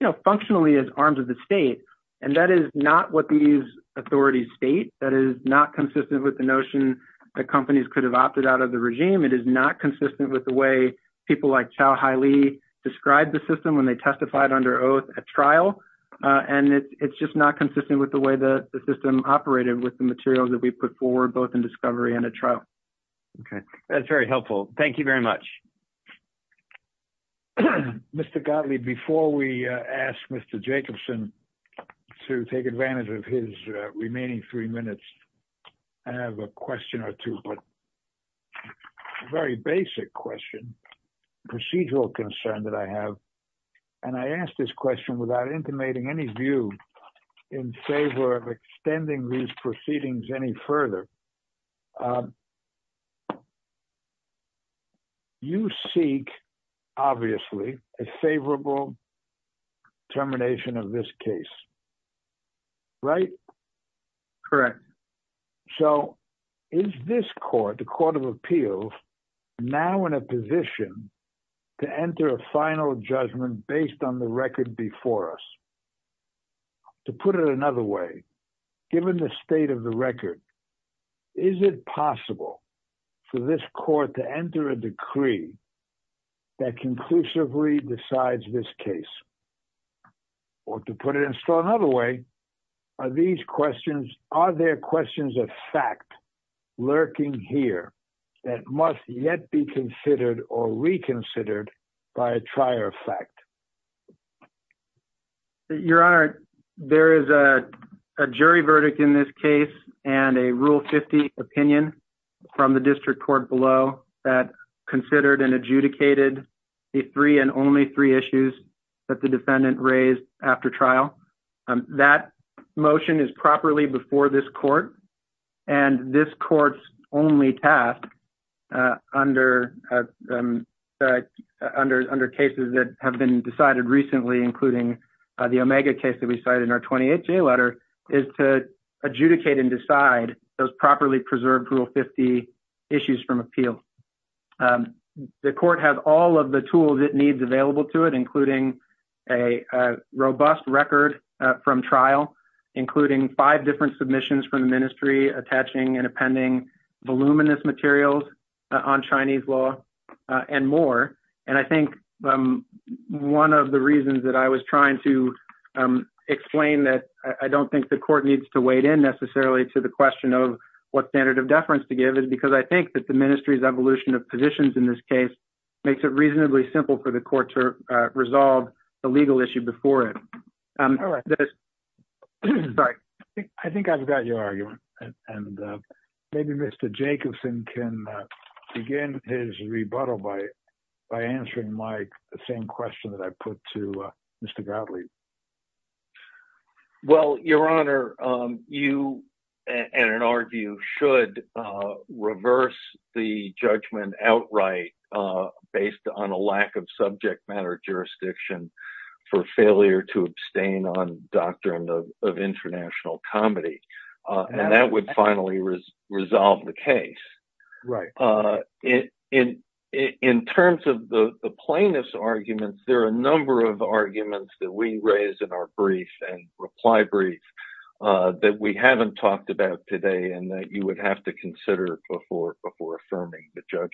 you know, functionally as arms of the state. And that is not what these authorities state. That is not consistent with the notion that companies could have opted out of the regime. It is not consistent with the way people like Chau Haile described the system when they testified under oath at trial. And it's just not consistent with the way that the system operated with the materials that we put forward both in discovery and a trial. Okay, that's very helpful. Thank you very much. Okay. Mr. Gottlieb, before we ask Mr. Jacobson to take advantage of his remaining three minutes, I have a question or two, but a very basic question, procedural concern that I have. And I asked this question without intimating any view in favor of extending these proceedings any further. You seek, obviously, a favorable termination of this case, right? Correct. So is this court, the Court of Appeals, now in a position to enter a final judgment based on the record before us? To put it another way, given the state of the record, is it possible for this court to enter a decree that conclusively decides this case? Or to put it in another way, are these questions, are there questions of fact lurking here that must yet be considered or reconsidered by a trier of fact? Your Honor, there is a jury verdict in this case and a Rule 50 opinion from the district court below that considered and adjudicated the three and only three issues that the defendant raised after trial. That motion is properly before this court. And this court's only task under cases that have been decided recently, including the Omega case that we cited in our 28th J letter, is to adjudicate and decide those properly preserved Rule 50 issues from appeal. The court has all of the tools it needs available to it, including a robust record from trial, including five different submissions from the ministry attaching and appending voluminous materials on Chinese law, and more. And I think one of the reasons that I was trying to explain that I don't think the court needs to wade in necessarily to the question of what standard of deference to give is because I think that the ministry's evolution of positions in this case makes it reasonably simple for the court to resolve the legal issue before it. All right. I think I've got your argument. And maybe Mr. Jacobson can begin his rebuttal by answering my same question that I put to Mr. Gottlieb. Well, Your Honor, you, in an argue, should reverse the judgment outright based on a lack of subject matter jurisdiction for failure to abstain on doctrine of international comedy. And that would finally resolve the case. In terms of the plaintiff's arguments, there are a number of arguments that we raise in our brief and reply brief that we haven't talked about today and that you would have to consider before affirming the judgment.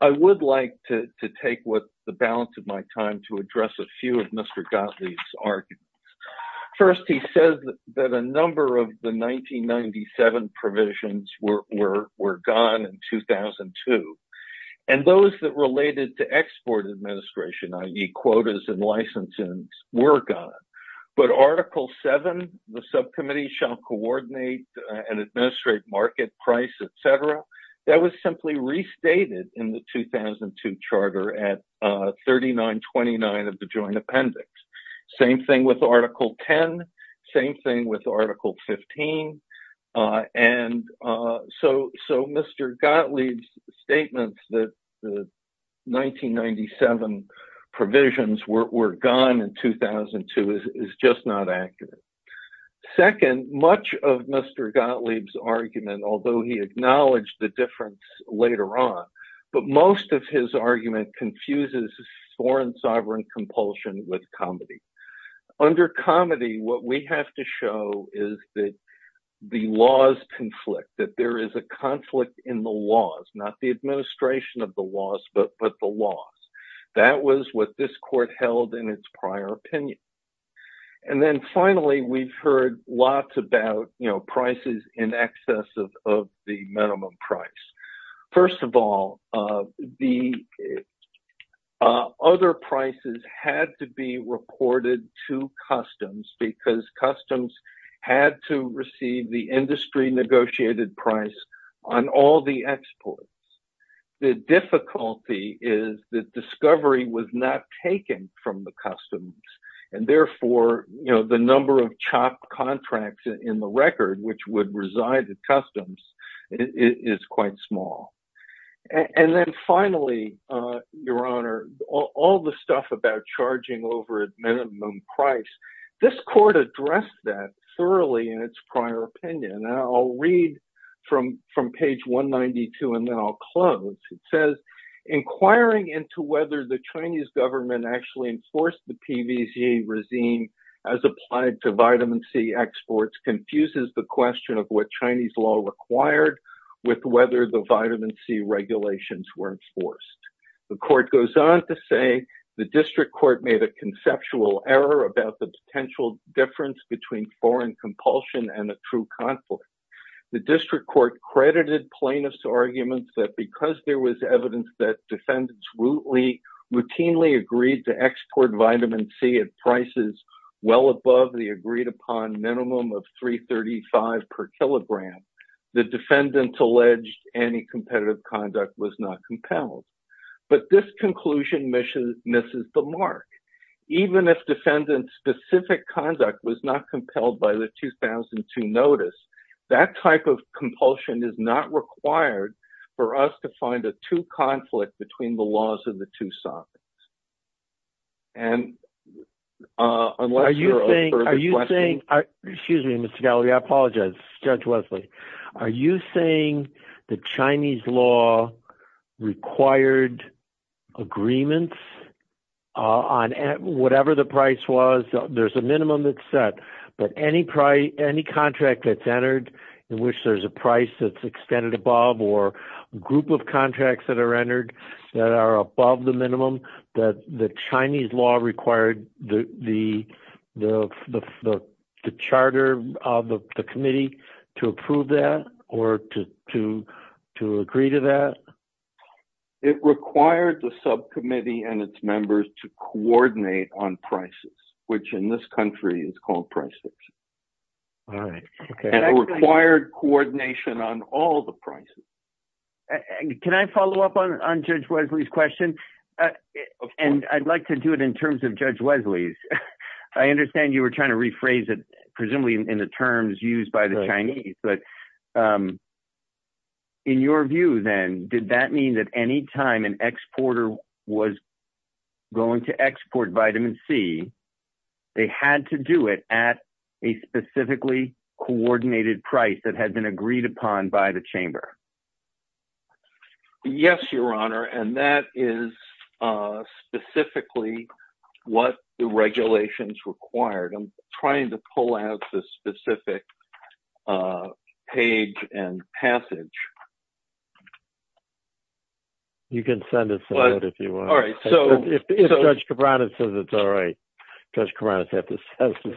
I would like to take the balance of my time to address a few of Mr. Gottlieb's arguments. First, he says that a number of the 1997 provisions were gone in 2002. And those that related to export administration, i.e. quotas and licenses, were gone. But Article VII, the subcommittee shall coordinate and administrate market price, etc. That was simply restated in the 2002 charter at 3929 of the joint appendix. Same thing with Article X, same thing with Article XV. And so Mr. Gottlieb's statement that the 1997 provisions were gone in 2002 is just not accurate. Second, much of Mr. Gottlieb's argument, although he acknowledged the difference later on, but most of his argument confuses foreign sovereign compulsion with comedy. Under comedy, what we have to show is that the laws conflict, that there is a conflict in the laws, not the administration of the laws, but the laws. That was what this court held in its prior opinion. And then finally, we've heard lots about prices in excess of the minimum price. First of all, the other prices had to be reported to Customs. Customs had to receive the industry negotiated price on all the exports. The difficulty is that discovery was not taken from the Customs. And therefore, the number of chopped contracts in the record, which would reside at Customs, is quite small. And then finally, Your Honor, all the stuff about charging over at minimum price, this court addressed that thoroughly in its prior opinion. And I'll read from page 192 and then I'll close. It says, inquiring into whether the Chinese government actually enforced the PVCA regime as applied to vitamin C exports confuses the question of what Chinese law required with whether the vitamin C regulations were enforced. The court goes on to say the District Court made a conceptual error about the potential difference between foreign compulsion and a true conflict. The District Court credited plaintiffs' arguments that because there was evidence that defendants routinely agreed to export vitamin C at prices well above the agreed upon minimum of $3.35 per kilogram, the defendant's alleged anti-competitive conduct was not compelled. But this conclusion misses the mark. Even if defendant's specific conduct was not compelled by the 2002 notice, that type of compulsion is not required for us to find a true conflict between the laws of the two sides. And, uh, are you saying, are you saying, excuse me, Mr. Gallagher, I apologize, Judge Wesley. Are you saying the Chinese law required agreements on whatever the price was? There's a minimum that's set, but any price, any contract that's entered in which there's a price that's extended or a group of contracts that are entered that are above the minimum, that the Chinese law required the charter of the committee to approve that or to, to, to agree to that? It required the subcommittee and its members to coordinate on prices, which in this country is prices required coordination on all the prices. Can I follow up on, on Judge Wesley's question? And I'd like to do it in terms of Judge Wesley's. I understand you were trying to rephrase it, presumably in the terms used by the Chinese, but, um, in your view, then did that mean that any time an exporter was going to export vitamin C, they had to do it at a specifically coordinated price that had been agreed upon by the chamber? Yes, your honor. And that is, uh, specifically what the regulations required. I'm trying to have the specific, uh, page and passage. You can send us that if you want. All right. So if Judge Cabrera says it's all right, Judge Cabrera has to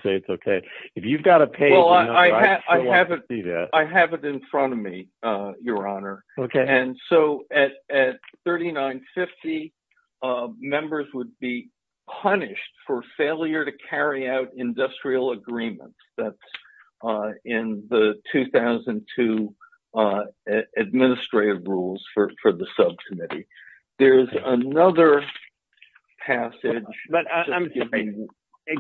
say it's okay. If you've got a page. I have it in front of me, uh, your honor. And so at, at 3950, uh, members would be punished for that, uh, in the 2002, uh, administrative rules for, for the subcommittee. There's another passage.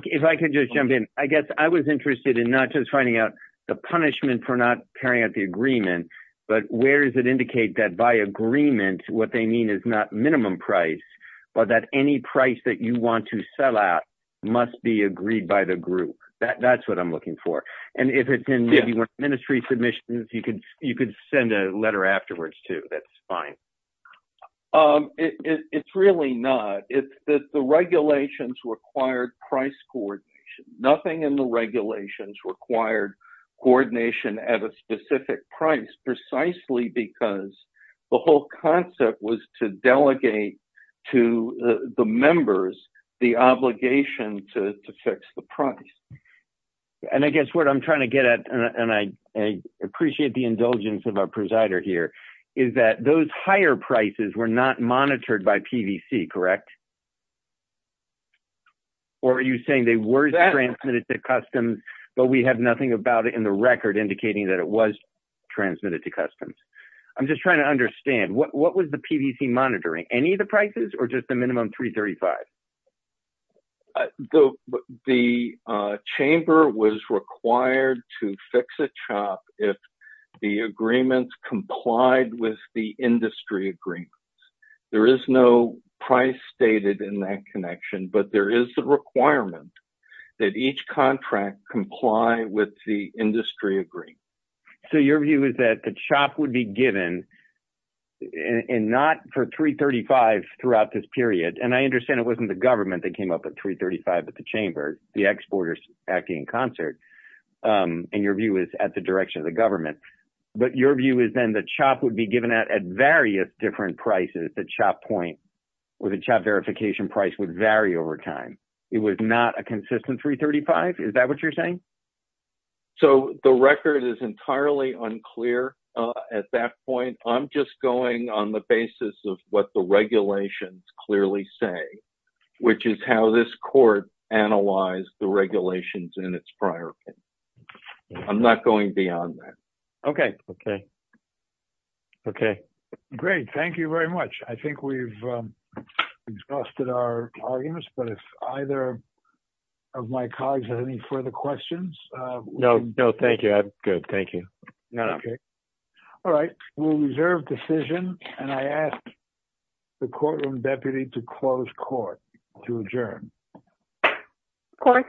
If I could just jump in, I guess I was interested in not just finding out the punishment for not carrying out the agreement, but where does it indicate that by agreement, what they mean is not minimum price, but that any price that you want to sell out must be agreed by the group. That's what I'm looking for. And if it's in ministry submissions, you could, you could send a letter afterwards too. That's fine. Um, it, it, it's really not. It's that the regulations required price coordination, nothing in the regulations required coordination at a specific price precisely because the whole concept was to delegate to the members, the obligation to fix the price. And I guess what I'm trying to get at, and I appreciate the indulgence of our presider here is that those higher prices were not monitored by PVC, correct? Or are you saying they were transmitted to customs, but we have nothing about it in the record indicating that it was transmitted to customs. I'm just trying to understand what was PVC monitoring, any of the prices or just the minimum 335. The chamber was required to fix a chop. If the agreements complied with the industry green, there is no price stated in that connection, but there is the requirement that each contract comply with the industry agree. So your view is that the chop would be given in, in, not for three 35 throughout this period. And I understand it wasn't the government that came up at three 35 at the chamber, the exporters acting in concert. Um, and your view is at the direction of the government, but your view is then the chop would be given at various different prices. The chop point where the chat verification price would vary over time. It was not a consistent three 35. Is that what you're saying? So the record is entirely unclear at that point. I'm just going on the basis of what the regulations clearly say, which is how this court analyzed the regulations in its prior. I'm not going beyond that. Okay. Okay. Okay. Great. Thank you very much. I think we've exhausted our arguments, but if either of my colleagues has any further questions, uh, no, no, thank you. Good. Thank you. Yeah. Okay. All right. We'll reserve decision. And I asked the courtroom deputy to close court to adjourn. Of course.